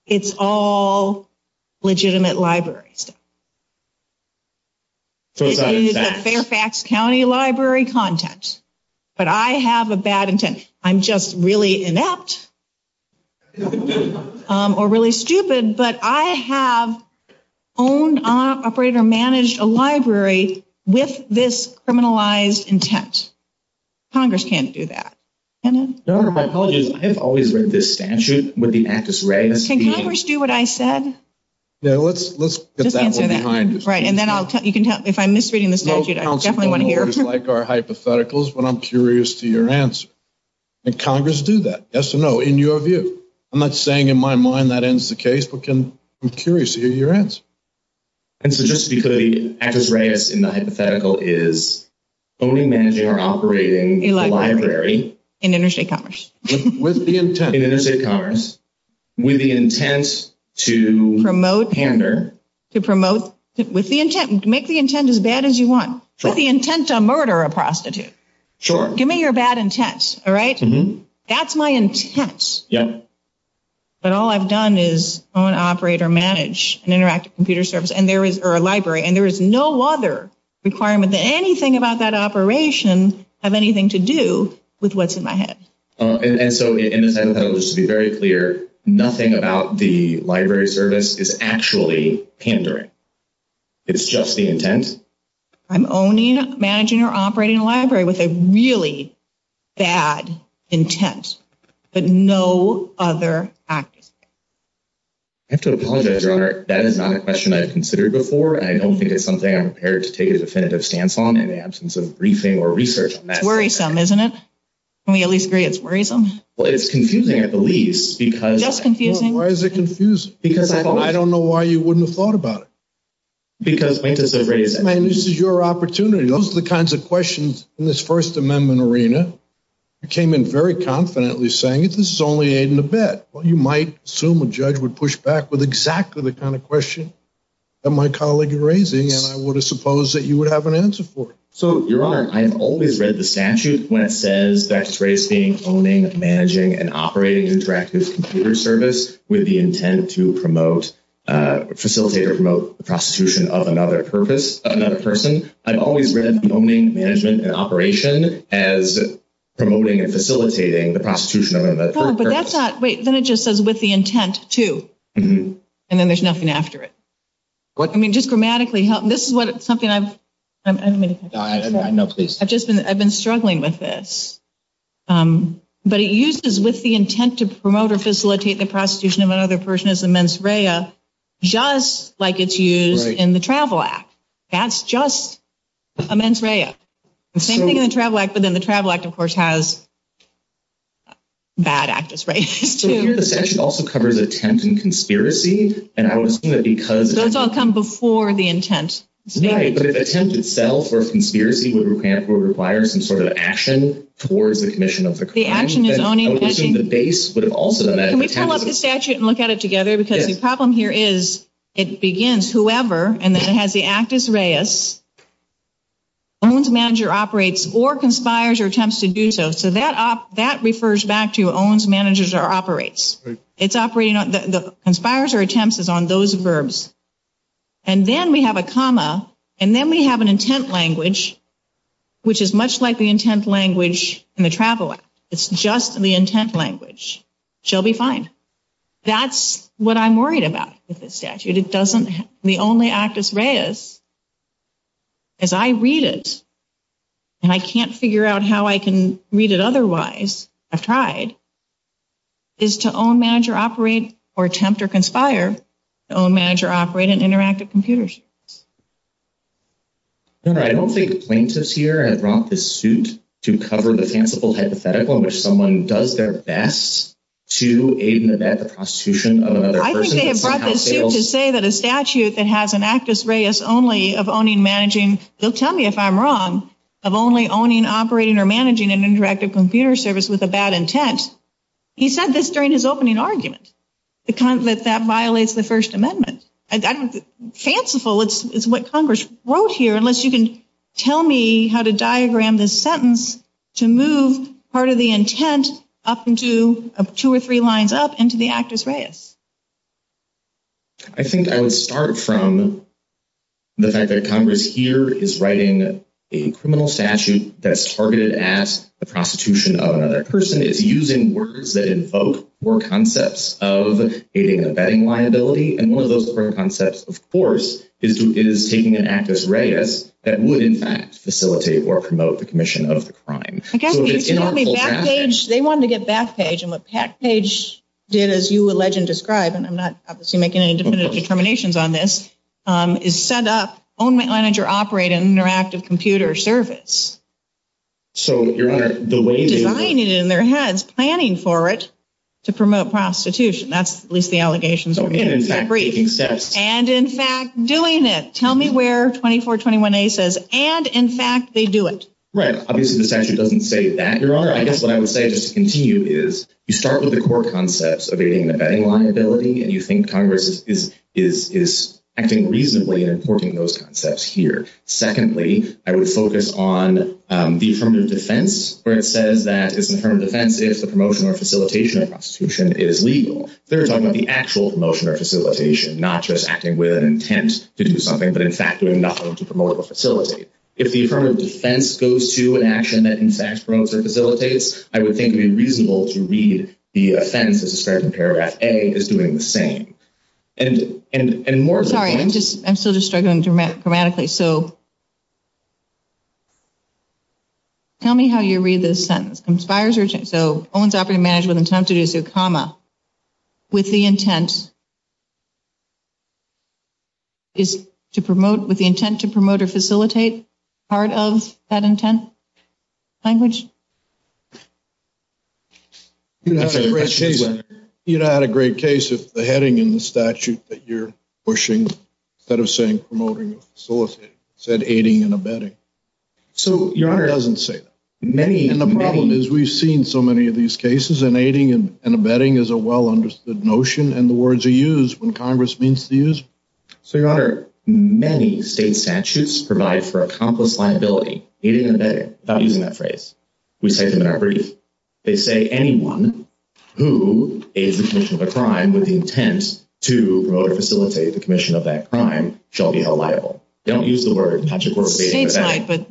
it's all legitimate. It's all legitimate libraries. Fairfax County Library content. But I have a bad intent. I'm just really inept or really stupid. But I have owned, operated or managed a library with this criminalized intent. Congress can't do that. Your Honor, my apologies. I have always read this statute with the actus reus. Can Congress do what I said? Yeah, let's get that one behind us. Right. And then if I'm misreading the statute, I definitely want to hear it. Most counsel don't always like our hypotheticals, but I'm curious to hear your answer. Can Congress do that? Yes or no, in your view? I'm not saying in my mind that ends the case, but I'm curious to hear your answer. And so just because the actus reus in the hypothetical is owning, managing or operating a library. In interstate commerce. In interstate commerce. With the intent to hamper. To promote. With the intent. Make the intent as bad as you want. Put the intent on murder a prostitute. Sure. Give me your bad intent. All right? That's my intent. Yeah. But all I've done is own, operate or manage an interactive computer service or a library. And there is no other requirement that anything about that operation have anything to do with what's in my head. And so in a sense, just to be very clear, nothing about the library service is actually hampering. It's just the intent. I'm owning, managing or operating a library with a really bad intent. But no other action. I have to apologize, Rana. That is not a question I've considered before. I don't think it's something I'm prepared to take a definitive stance on in the absence of briefing or research on that. It's worrisome, isn't it? Can we at least agree it's worrisome? Well, it's confusing at the least because. Just confusing? Why is it confusing? Because I don't know why you wouldn't have thought about it. Because. This is your opportunity. Those are the kinds of questions in this First Amendment arena. You came in very confidently saying this is only aid in the bed. Well, you might assume a judge would push back with exactly the kind of question that my colleague is raising. And I would have supposed that you would have an answer for it. So, Your Honor, I have always read the statute when it says best praise being owning, managing and operating interactive computer service with the intent to promote, facilitate or promote the prosecution of another person. I've always read owning, managing and operation as promoting and facilitating the prosecution of another person. But then it just says with the intent to. And then there's nothing after it. I mean, just grammatically. This is something I've been struggling with this. But it uses with the intent to promote or facilitate the prosecution of another person as a mens rea, just like it's used in the Travel Act. That's just a mens rea. The same thing in the Travel Act. But then the Travel Act, of course, has bad actors. Right. This actually also covers attempts and conspiracies. And I would assume that because those don't come before the intent. Yeah, but it tends to sell for a conspiracy. We're we're requiring some sort of action towards the commission of the action in the base. Can we pull up the statute and look at it together? Because the problem here is it begins whoever and then it has the actus reus. Owns, manager, operates or conspires or attempts to do so. So that that refers back to owns, managers or operates. It's operating on the conspires or attempts on those verbs. And then we have a comma and then we have an intent language, which is much like the intent language in the Travel Act. It's just the intent language. She'll be fine. That's what I'm worried about with this statute. It doesn't. The only actus reus. As I read it. And I can't figure out how I can read it otherwise. I've tried. Is to own, manager, operate or attempt or conspire. Own, manager, operate and interactive computers. I don't think the plaintiff's here. I brought this suit to cover the fanciful hypothetical in which someone does their best to aid and abet the prostitution of another person. To say that a statute that has an actus reus only of owning, managing. You'll tell me if I'm wrong of only owning, operating or managing an interactive computer service with a bad intent. He said this during his opening argument. That that violates the First Amendment. Fanciful is what Congress wrote here. Unless you can tell me how to diagram this sentence to move part of the intent up into two or three lines up into the actus reus. I think I would start from the fact that Congress here is writing a criminal statute that's targeted at the prostitution of another person. It's using words that invoke more concepts of aiding and abetting liability. And one of those concepts, of course, is taking an actus reus that would, in fact, facilitate or promote the commission of the crime. They wanted to get Backpage. And what Backpage did, as you alleged and described, and I'm not obviously making any definitive determinations on this, is set up. Own, manager, operate and interactive computer service. So the way in their heads planning for it to promote prostitution. That's at least the allegations. And in fact, doing it. Tell me where 24, 21 says. And in fact, they do it. Right. Obviously, the statute doesn't say that. Your Honor, I guess what I would say is you start with the core concepts of aiding and abetting liability. And you think Congress is acting reasonably and important. Those concepts here. Secondly, I would focus on the affirmative defense, where it says that it's affirmative defense. If the promotion or facilitation of prostitution is legal. They're talking about the actual promotion or facilitation, not just acting with an intent to do something. But, in fact, doing nothing to promote or facilitate. If the affirmative defense goes to an action that, in fact, promotes or facilitates, I would think it would be reasonable to read the offense as a certain paragraph. A is doing the same. Sorry. I'm still just struggling grammatically. So, tell me how you read this sentence. So, owns, operates, and manages with an intent to do so, comma, with the intent to promote or facilitate part of that intent. Language? You know, I had a great case with the heading in the statute that you're pushing. Instead of saying promoting or facilitating, it said aiding and abetting. So, Your Honor. It doesn't say that. And the problem is we've seen so many of these cases. And aiding and abetting is a well-understood notion. And the words are used when Congress means to use them. So, Your Honor, many state statutes provide for accomplished liability. Aiding and abetting. Okay. Without using that phrase. We cite them in our brief. They say anyone who aids the commission of a crime with the intent to promote or facilitate the commission of that crime shall be held liable. Don't use the word. That's, of course, aiding and abetting. But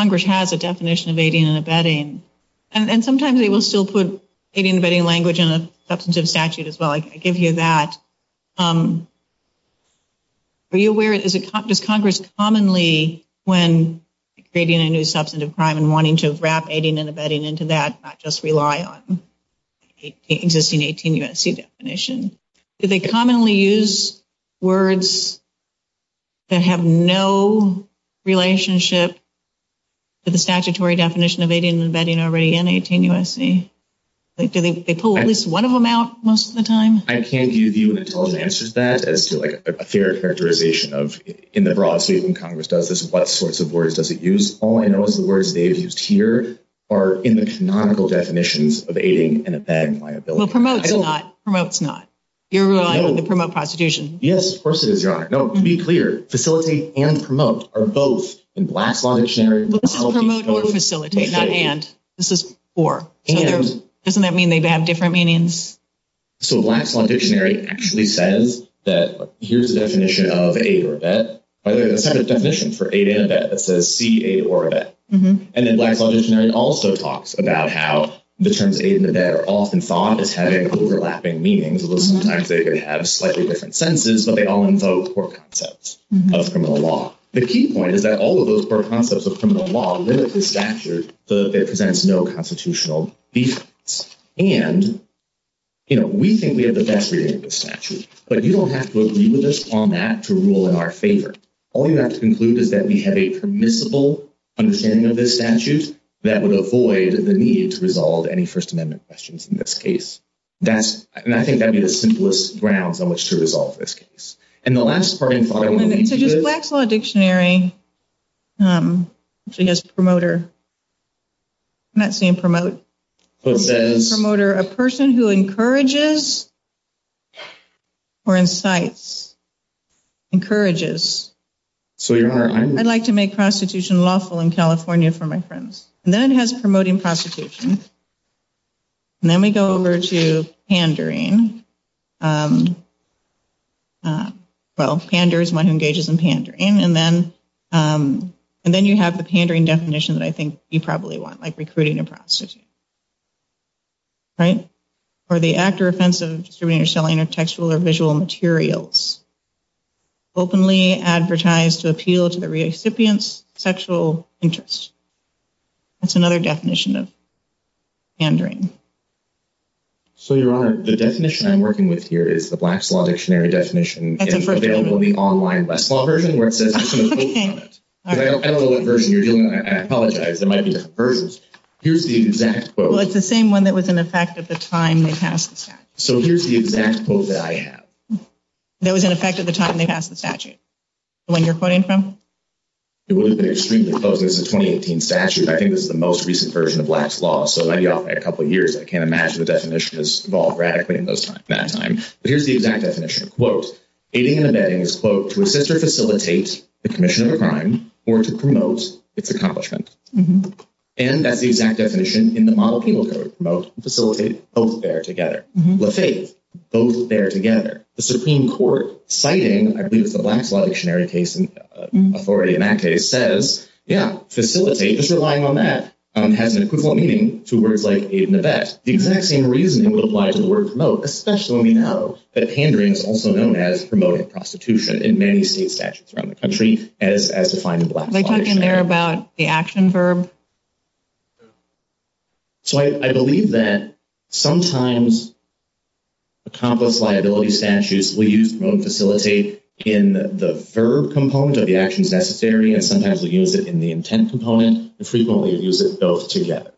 Congress has a definition of aiding and abetting. And sometimes they will still put aiding and abetting language in a substantive statute as well. I give you that. Are you aware, does Congress commonly, when creating a new substantive crime and wanting to wrap aiding and abetting into that, not just rely on the existing 18 U.S.C. definition, do they commonly use words that have no relationship to the statutory definition of aiding and abetting already in 18 U.S.C.? Do they pull at least one of them out most of the time? I can't give you an answer to that as to, like, a fair characterization of, in the broad case when Congress does this, what sorts of words does it use. All I know is the words they have used here are in the canonical definitions of aiding and abetting liability. Well, promote's not. Promote's not. You're relying on the promote prostitution. Yes, of course it is, Your Honor. No, to be clear, facilitate and promote are both in Black Law that's shared. Promote or facilitate, not and. This is for. And. Doesn't that mean they have different meanings? So Black Law Dictionary actually says that here's the definition of aid or abet. By the way, there's a separate definition for aid and abet that says see, aid or abet. And then Black Law Dictionary also talks about how the terms aid and abet are often thought of as having overlapping meanings, although sometimes they may have slightly different sentences, but they all invoke core concepts of criminal law. The key point is that all of those core concepts of criminal law limit the statute so that it presents no constitutional basis. And, you know, we think we have the best reading of the statute, but you don't have to agree with us on that to rule in our favor. All you have to conclude is that we have a permissible understanding of this statute that would avoid the need to resolve any First Amendment questions in this case. And I think that'd be the simplest grounds on which to resolve this case. And the last part. Black Law Dictionary actually has promoter. I'm not saying promote. Promoter, a person who encourages or incites, encourages. So I'd like to make prostitution lawful in California for my friends. And then it has promoting prostitution. And then we go over to pandering. Well, pander is one who engages in pandering. And then you have the pandering definition that I think you probably want, like recruiting a prostitute. Right? Or the act or offense of distributing or selling of textual or visual materials. Openly advertised to appeal to the recipient's sexual interest. That's another definition of pandering. So, Your Honor, the definition I'm working with here is the Black Law Dictionary definition. It's available in the online Black Law version. I apologize. There might be different versions. Here's the exact quote. Well, it's the same one that was in effect at the time they passed the statute. So here's the exact quote that I have. That was in effect at the time they passed the statute. The one you're quoting from? It wouldn't be extremely focused. It's a 2018 statute. I think this is the most recent version of Black Law. So it might be out in a couple of years. I can't imagine the definition has evolved radically in that time. But here's the exact definition. Quote, aiding and abetting is, quote, to assist or facilitate the commission of a crime or to promote its accomplishments. And that's the exact definition in the model cable that it promotes. To facilitate both bear together. Let's say both bear together. The Supreme Court citing, I believe it's a Black Law dictionary case, authority in that case says, yeah, facilitate is relying on that. It has an equivalent meaning to words like aid and abet. The exact same reasoning would apply to the word promote, especially when we know that pandering is also known as promoting prostitution in many state statutes around the country as defined in Black Law. They talk in there about the action verb? So I believe that sometimes accomplished liability statutes will use promote and facilitate in the verb component of the action's necessity. And sometimes we use it in the intent component. We frequently use it both together.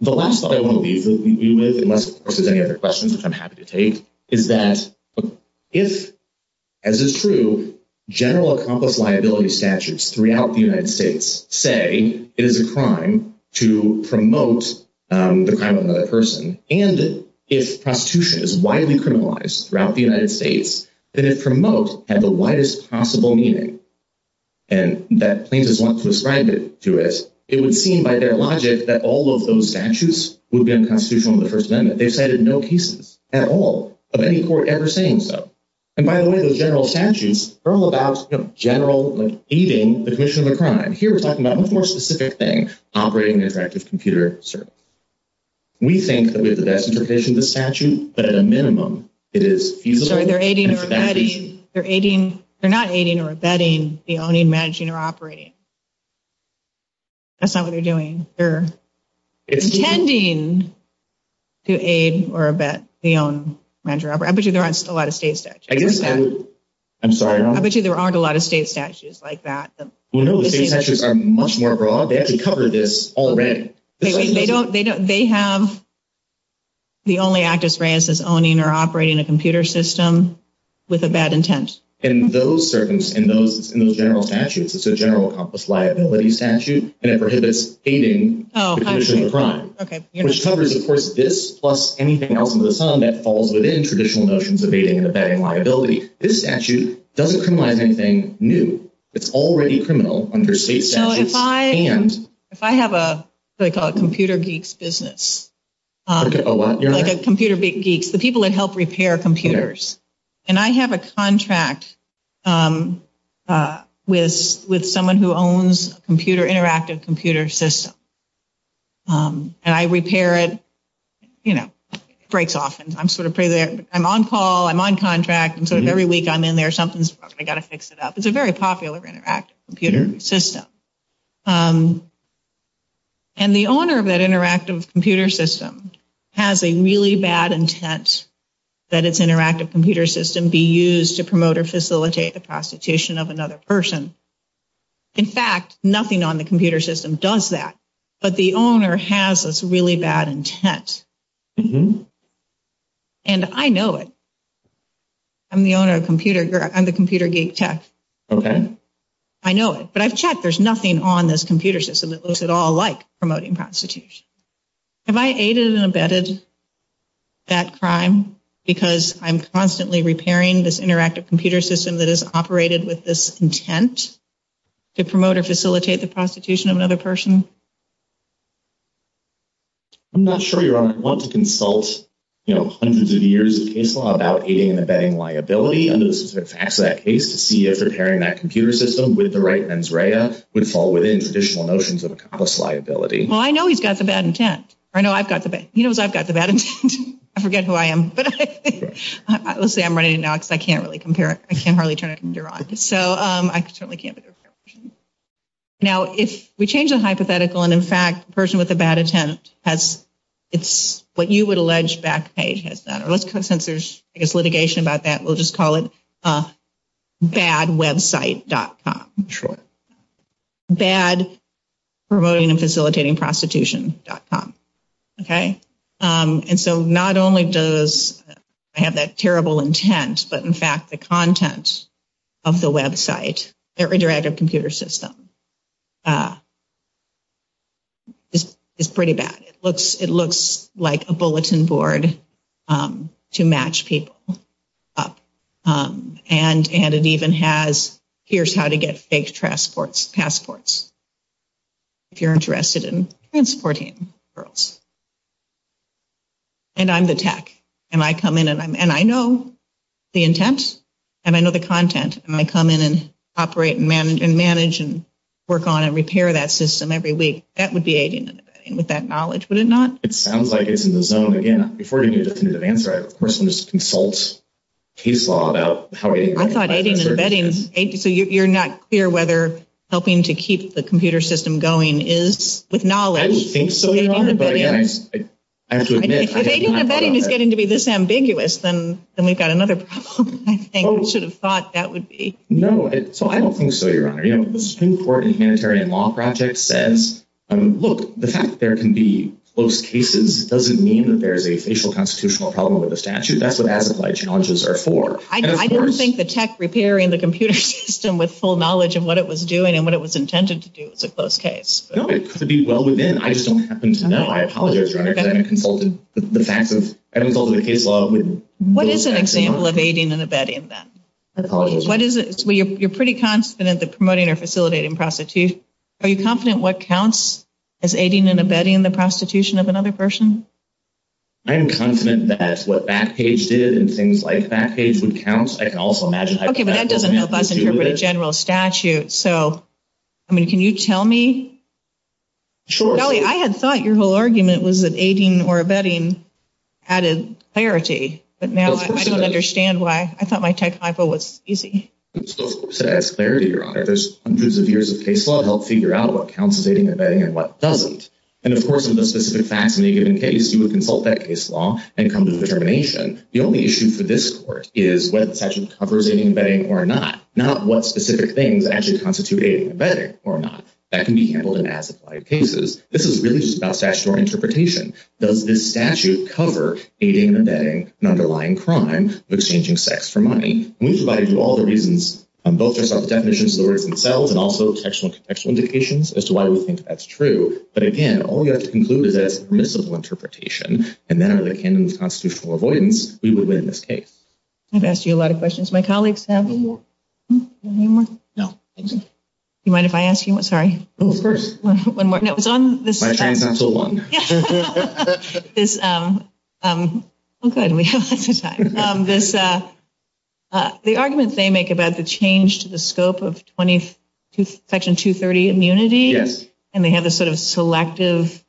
The last thought I want to leave you with, unless of course there's any other questions which I'm happy to take, is that if, as is true, general accomplished liability statutes throughout the United States say it is a crime to promote the crime of another person, and if prostitution is widely criminalized throughout the United States, that it promotes has the widest possible meaning. And that plaintiff wants to ascribe it to us. It would seem by their logic that all of those statutes would be unconstitutional in the First Amendment. They cited no cases at all of any court ever saying so. And by the way, those general statutes are all about general, like, aiding the conviction of a crime. Here, we're talking about one more specific thing, operating an interactive computer service. We think that we have the best interpretation of the statute, but at a minimum, it is... They're not aiding or abetting the owning, managing, or operating. That's not what they're doing. They're intending to aid or abet the own, managing, or operating. I bet you there aren't a lot of state statutes like that. I'm sorry? I bet you there aren't a lot of state statutes like that. Well, no, the state statutes are much more broad. They actually cover this already. They have... The only act that's granted is owning or operating a computer system with abet intent. In those general statutes, it's a general accomplished liability statute that prohibits aiding the conviction of a crime. Which covers, of course, this plus anything else under the sun that falls within traditional notions of aiding and abetting liability. This statute doesn't provide anything new. It's already criminal under state statutes. If I have a computer geeks business... The people that help repair computers. And I have a contract with someone who owns an interactive computer system. And I repair it. It breaks off. I'm on call. I'm on contract. Every week, I'm in there. Something's broken. I've got to fix it up. It's a very popular interactive computer system. And the owner of that interactive computer system has a really bad intent that its interactive computer system be used to promote or facilitate the prostitution of another person. In fact, nothing on the computer system does that. But the owner has this really bad intent. And I know it. I'm the computer geek tech. Okay. I know it. But I've checked. There's nothing on this computer system that looks at all like promoting prostitution. Have I aided and abetted that crime because I'm constantly repairing this interactive computer system that is operated with this intent to promote or facilitate the prostitution of another person? I'm not sure, Your Honor. I want to consult hundreds of years of case law about aiding and abetting liability. And it's actually a case to see if repairing that computer system with the right mens rea would fall within traditional notions of cost liability. Well, I know he's got the bad intent. Or no, I've got the bad intent. He knows I've got the bad intent. I forget who I am. But let's say I'm running it now because I can't really compare. I can't hardly turn it under on. So I certainly can't. Now, if we change the hypothetical and, in fact, the person with the bad intent has what you would allege back page. Let's call it bad website.com. Bad promoting and facilitating prostitution.com. Okay. And so not only does it have that terrible intent, but, in fact, the contents of the website, the interactive computer system, is pretty bad. It looks like a bulletin board to match people up. And it even has here's how to get fake passports if you're interested in transporting girls. And I'm the tech. And I come in and I know the intent and I know the content. And I come in and operate and manage and work on and repair that system every week. That would be aiding and abetting with that knowledge, would it not? It sounds like it's in the zone again. I think it's in the zone. I think it's in the zone. I don't know. I thought you were not clear whether helping to keep the computer system going is with knowledge. I think it's getting to be this ambiguous. And we've got another problem. I should have thought that would be. No, so I don't think so, Your Honor. The Supreme Court in the Humanitarian Law Project says, look, the fact that there can be close cases doesn't mean that there's a facial constitutional problem with the statute. That's what the challenges are for. I don't think the tech repairing the computer system with full knowledge of what it was doing and what it was intended to do is a close case. It could be well within. I just don't happen to know. I apologize, Your Honor, because I haven't consulted. The fact is, I haven't consulted a case law. What is an example of aiding and abetting then? You're pretty confident that promoting or facilitating prostitution. Are you confident what counts as aiding and abetting the prostitution of another person? I am confident that what Backpage did and things like Backpage would count. Okay, but that doesn't help us interpret a general statute. So, I mean, can you tell me? I had thought your whole argument was that aiding or abetting added clarity. But now I don't understand why. I thought my tech 5.0 was easy. It still says clarity, Your Honor. There's years of case law to help figure out what counts as aiding and abetting and what doesn't. And, of course, in those specific facts in a given case, you would consult that case law and come to a determination. The only issue for this court is whether the statute covers aiding and abetting or not. Not what specific things actually constitute aiding and abetting or not. That can be handled in as-applied cases. This is really just about statutory interpretation. Does this statute cover aiding and abetting an underlying crime of exchanging sex for money? We've provided you all the reasons, both the definitions of the words themselves and also the sexual indications, as to why we think that's true. But, again, all we have to conclude is that it's a miscible interpretation. And then, like in the constitutional avoidance, we would win this case. I've asked you a lot of questions. My colleagues have any more? No. Do you mind if I ask you one? Sorry. One more. No, it's on this. I can't until one. This. Oh, go ahead. We have lots of time. The arguments they make about the change to the scope of Section 230 immunity. Yes. And they have this sort of selective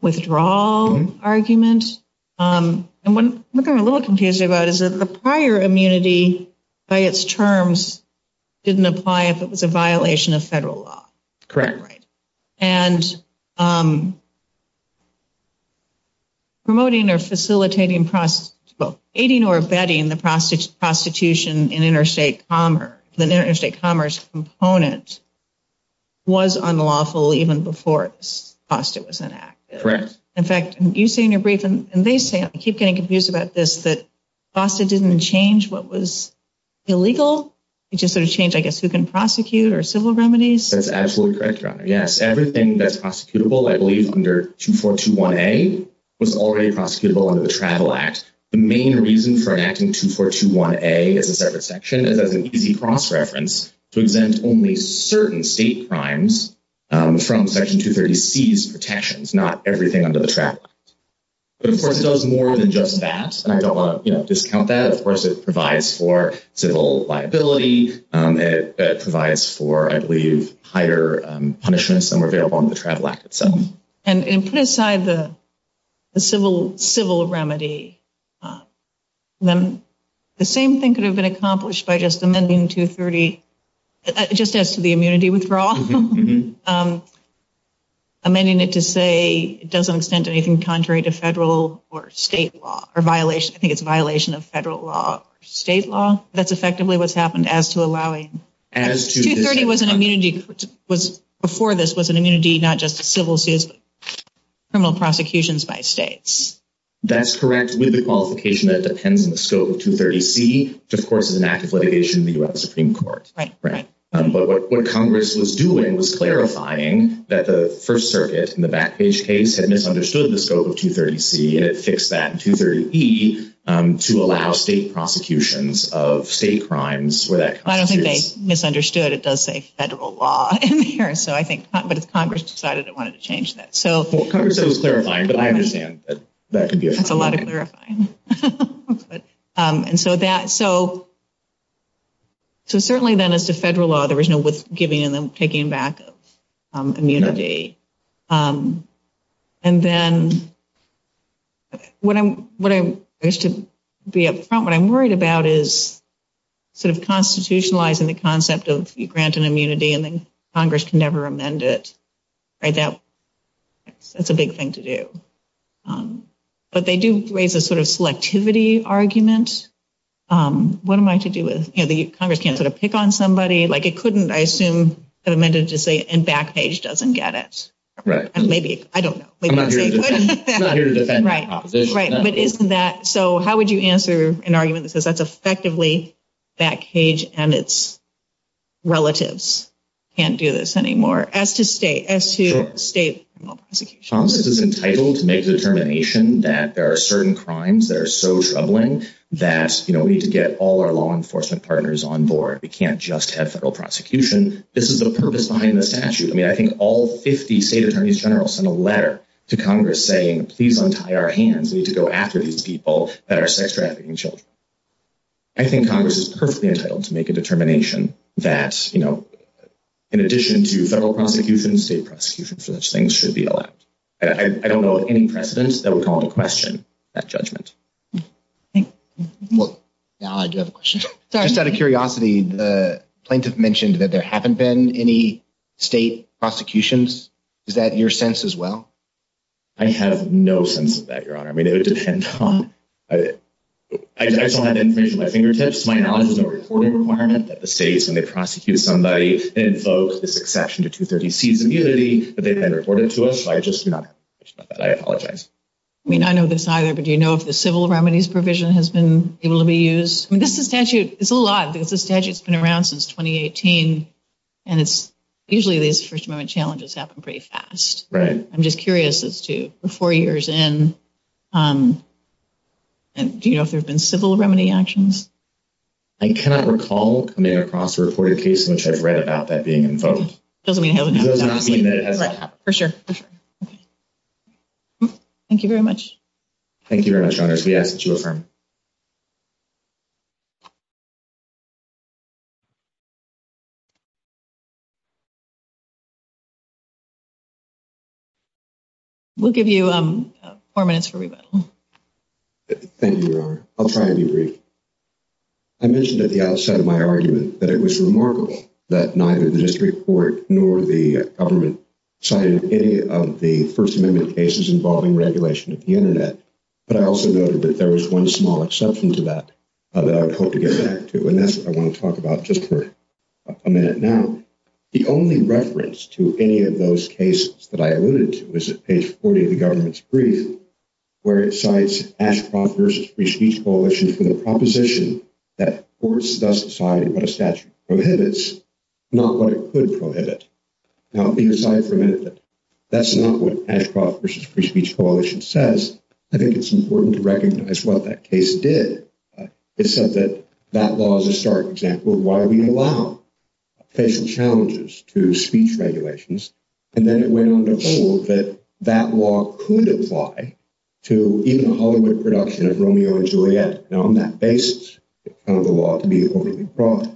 withdrawal argument. And what I'm a little confused about is that the prior immunity, by its terms, didn't apply if it was a violation of federal law. Correct. And promoting or facilitating, well, aiding or abetting the prostitution in interstate commerce, the interstate commerce component, was unlawful even before it was enacted. Correct. In fact, you say in your brief, and they say, I keep getting confused about this, that FOSTA didn't change what was illegal. It just sort of changed, I guess, who can prosecute or civil remedies. That's absolutely correct. Yes. Everything that's prosecutable, I believe, under 2421A was already prosecutable under the Travel Act. The main reason for enacting 2421A as a separate section is that it would be cross-referenced to exempt only certain state crimes from Section 230C's protections, not everything under the Travel Act. But, of course, it does more than just that. And I don't want to discount that. Of course, it provides for civil liability. It provides for, I believe, higher punishments than were available under the Travel Act itself. And put aside the civil remedy, the same thing could have been accomplished by just amending 230, just as to the immunity withdrawal, amending it to say it doesn't extend to anything contrary to federal or state law or violation. I think it's a violation of federal law or state law. That's effectively what's happened as to allowing. 230 was an immunity, before this, was an immunity, not just civil suits, but criminal prosecutions by states. That's correct. We have a qualification that depends on the scope of 230C, which, of course, is an act of litigation in the U.S. Supreme Court. Right. But what Congress was doing was clarifying that the First Circuit, in the Backpage case, had misunderstood the scope of 230C. It fixed that in 230E to allow state prosecutions of state crimes. I don't think they misunderstood. It does say federal law in here. But Congress decided it wanted to change that. Congress said it was clarifying, but I understand that that could be a problem. That's a lot of clarifying. So, certainly, then, as to federal law, there was no giving and taking back of immunity. And then, what I'm worried about is sort of constitutionalizing the concept of you grant an immunity and then Congress can never amend it. That's a big thing to do. But they do raise a sort of selectivity argument. What am I to do with it? Congress can't sort of pick on somebody. It couldn't, I assume, amend it to say Backpage doesn't get it. Right. I don't know. I'm not here to defend that opposition. Right. So, how would you answer an argument that says that's effectively Backpage and its relatives can't do this anymore as to state law prosecutions? Congress is entitled to make the determination that there are certain crimes that are so troubling that we need to get all our law enforcement partners on board. We can't just have federal prosecution. This is the purpose behind the statute. I mean, I think all 50 state attorneys general sent a letter to Congress saying, please don't tie our hands. We need to go after these people that are sex trafficking children. I think Congress is perfectly entitled to make a determination that, you know, in addition to federal prosecution, state prosecution for such things should be allowed. I don't know of any precedent that would call into question that judgment. Now, I do have a question. Just out of curiosity, the plaintiff mentioned that there haven't been any state prosecutions. Is that your sense as well? I have no sense of that, Your Honor. I mean, it would depend on – I don't have information at my fingertips. My knowledge is a reporting requirement that the state, when they prosecute somebody, it invokes this exception to 230C's immunity, but they've been reported to us. So, I just do not – I apologize. I mean, I know this either, but do you know if the civil remedies provision has been able to be used? I mean, that's a statute – it's a lot because the statute's been around since 2018, and it's usually these first moment challenges happen pretty fast. Right. I'm just curious as to, four years in, do you know if there's been civil remedy actions? I cannot recall coming across a reported case in which I read about that being invoked. It doesn't mean it hasn't happened. For sure. Thank you very much. Thank you very much, Your Honor. We'll give you four minutes for rebuttal. Thank you, Your Honor. I'll try and be brief. I mentioned at the outset of my argument that it was remarkable that neither the district court nor the government cited any of the First Amendment cases involving regulation of the Internet, but I also noted that there was one small exception to that that I would hope to get back to, and that's what I want to talk about just for a minute now. The only reference to any of those cases that I alluded to is at page 40 of the government's brief, where it cites Ashcroft v. Free Speech Coalition for the proposition that courts decide what a statute prohibits, not what it could prohibit. Now, we've decided for a minute that that's not what Ashcroft v. Free Speech Coalition says. I think it's important to recognize what that case did. It said that that law is a stark example of why we allow facial challenges to speech regulations, and then it went on to assert that that law could apply to even the Hollywood production of Romeo and Juliet on that basis, the law to be appropriate and proper.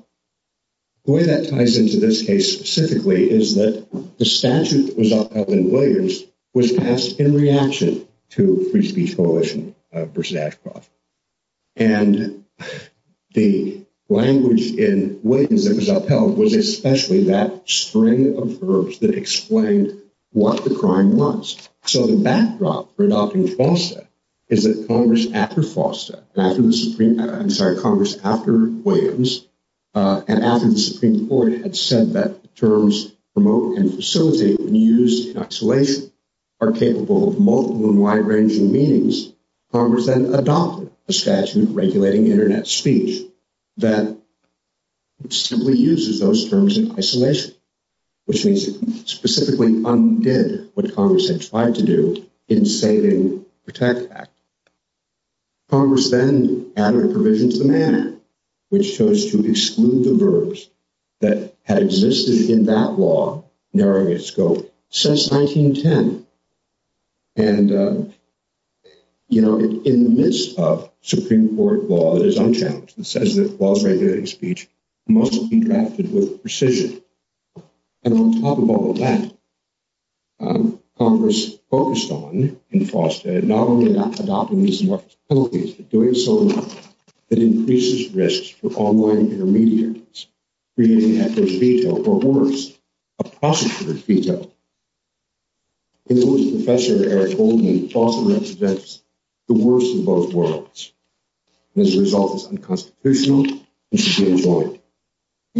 The way that ties into this case specifically is that the statute that was upheld in Williams was passed in reaction to Free Speech Coalition v. Ashcroft. And the language in Williams that was upheld was especially that string of verbs that explained what the crime was. So the backdrop for adopting FOSTA is that Congress, after FOSTA—I'm sorry, Congress, after Williams, and after the Supreme Court had said that the terms promote and facilitate and use in isolation are capable of multiple and wide-ranging meanings, Congress then adopted a statute regulating Internet speech that simply uses those terms in isolation, which means it specifically undid what Congress had tried to do in stating Protect Act. Congress then added a provision to the manner, which chose to exclude the verbs that had existed in that law, narrowing its scope, since 1910. And, you know, in the midst of Supreme Court law, there's unchallenged. It says that the law's regulating speech must be drafted with precision. And on top of all of that, Congress focused on, in FOSTA, not only adopting these new properties, but doing so enough that it increases risks for online intermediaries. We're using hector's veto for orders of prosecutor's veto. In other words, the catcher had told me FOSTA represents the worst of both worlds. And as a result, it's unconstitutional and should be adjoined. Let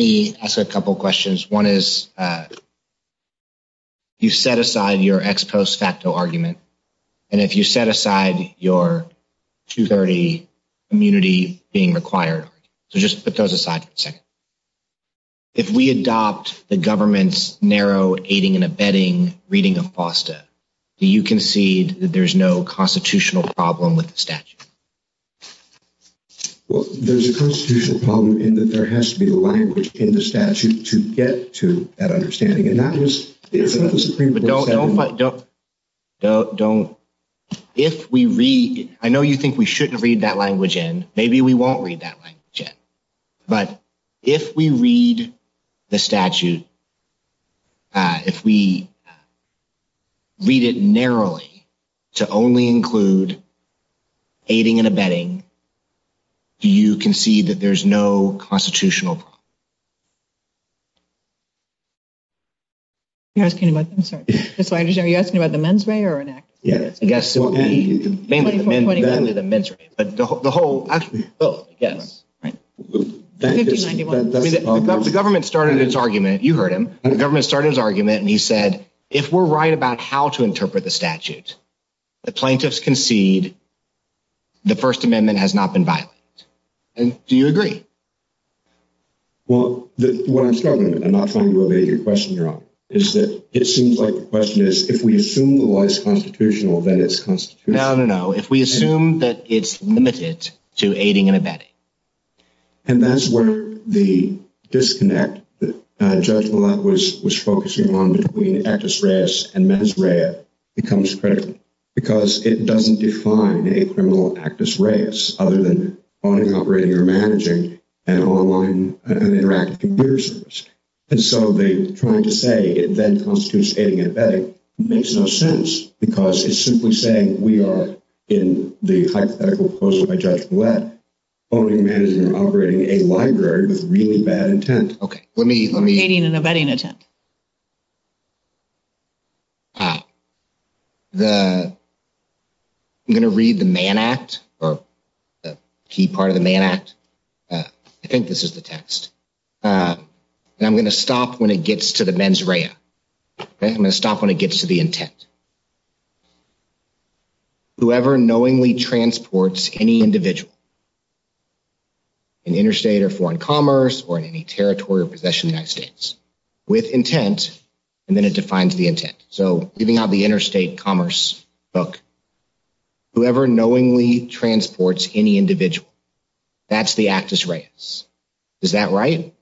me ask a couple questions. One is, if you set aside your ex post facto argument, and if you set aside your 230 immunity being required— So just put those aside for a second. If we adopt the government's narrow aiding and abetting reading of FOSTA, do you concede that there's no constitutional problem with the statute? Well, there's a constitutional problem in that there has to be a language in the statute to get to that understanding. And that was— Don't—if we read—I know you think we shouldn't read that language in. Maybe we won't read that language in. But if we read the statute, if we read it narrowly to only include aiding and abetting, do you concede that there's no constitutional problem? You're asking about—I'm sorry. Are you asking about the mens rea or an act? Yes. The whole— The government started its argument. You heard him. The government started its argument, and he said, if we're right about how to interpret the statute, the plaintiffs concede the First Amendment has not been violated. And do you agree? Well, what I'm struggling with, and I'm not sure I'm going to be able to get your question wrong, is that it seems like the question is, if we assume the law is constitutional, then it's constitutional. No, no, no. If we assume that it's limited to aiding and abetting. And that's where the disconnect that Judge Millett was focusing on between actus reus and mens rea becomes critical, because it doesn't define a criminal actus reus other than owning, operating, or managing an online and interactive computer service. And so the point to say it then goes to aiding and abetting makes no sense, because it's simply saying we are, in the hypothetical proposal by Judge Millett, owning, managing, or operating a library with really bad intent. Okay, let me— Aiding and abetting intent. I'm going to read the Mann Act, or the key part of the Mann Act. I think this is the text. And I'm going to stop when it gets to the mens rea. I'm going to stop when it gets to the intent. Whoever knowingly transports any individual in interstate or foreign commerce or in any territory or possession in the United States with intent, and then it defines the intent. So, even now, the interstate commerce book, whoever knowingly transports any individual, that's the actus reus. Is that right?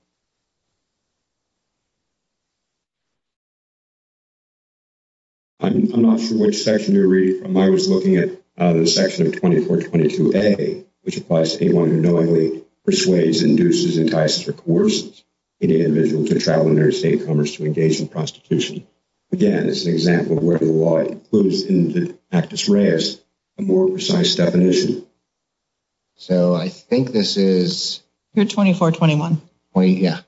I'm not sure which section you're reading from. I was looking at the section of 2422A, which applies to anyone who knowingly persuades, induces, entices, or coerces any individual to travel in interstate commerce to engage in prostitution. Again, it's an example of whether the law includes in the actus reus a more precise definition. So I think this is— 2421. Yeah.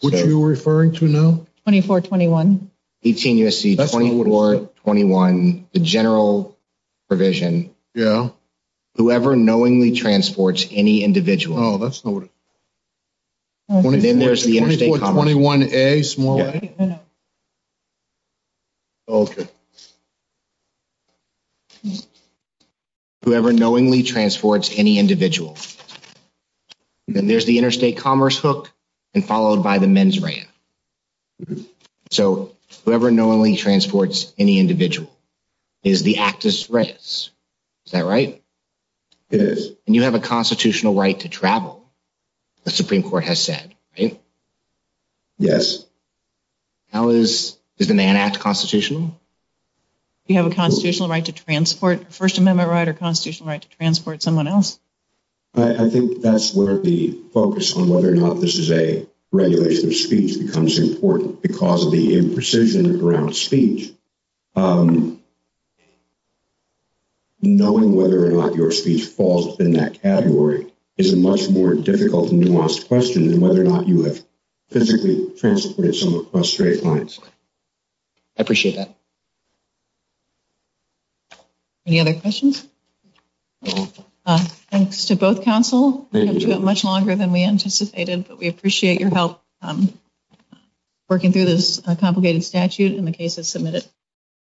What are you referring to now? 2421. 18 U.S.C. 2421, the general provision. Yeah. Whoever knowingly transports any individual— Oh, that's not what it is. Then there's the interstate commerce— 2421A, small a? Yeah. Okay. Whoever knowingly transports any individual— Then there's the interstate commerce book and followed by the men's ram. So whoever knowingly transports any individual is the actus reus. Is that right? Yes. And you have a constitutional right to travel, the Supreme Court has said, right? Yes. How is—does the man act constitutional? Do you have a constitutional right to transport—a First Amendment right or a constitutional right to transport someone else? I think that's where the focus on whether or not this is a regulation of speech becomes important because of the imprecision around speech. Knowing whether or not your speech falls within that category is a much more difficult and nuanced question than whether or not you have physically transported someone across straight lines. I appreciate that. Any other questions? Thank you. We're going to do it much longer than we anticipated, but we appreciate your help working through this complicated statute and the cases submitted.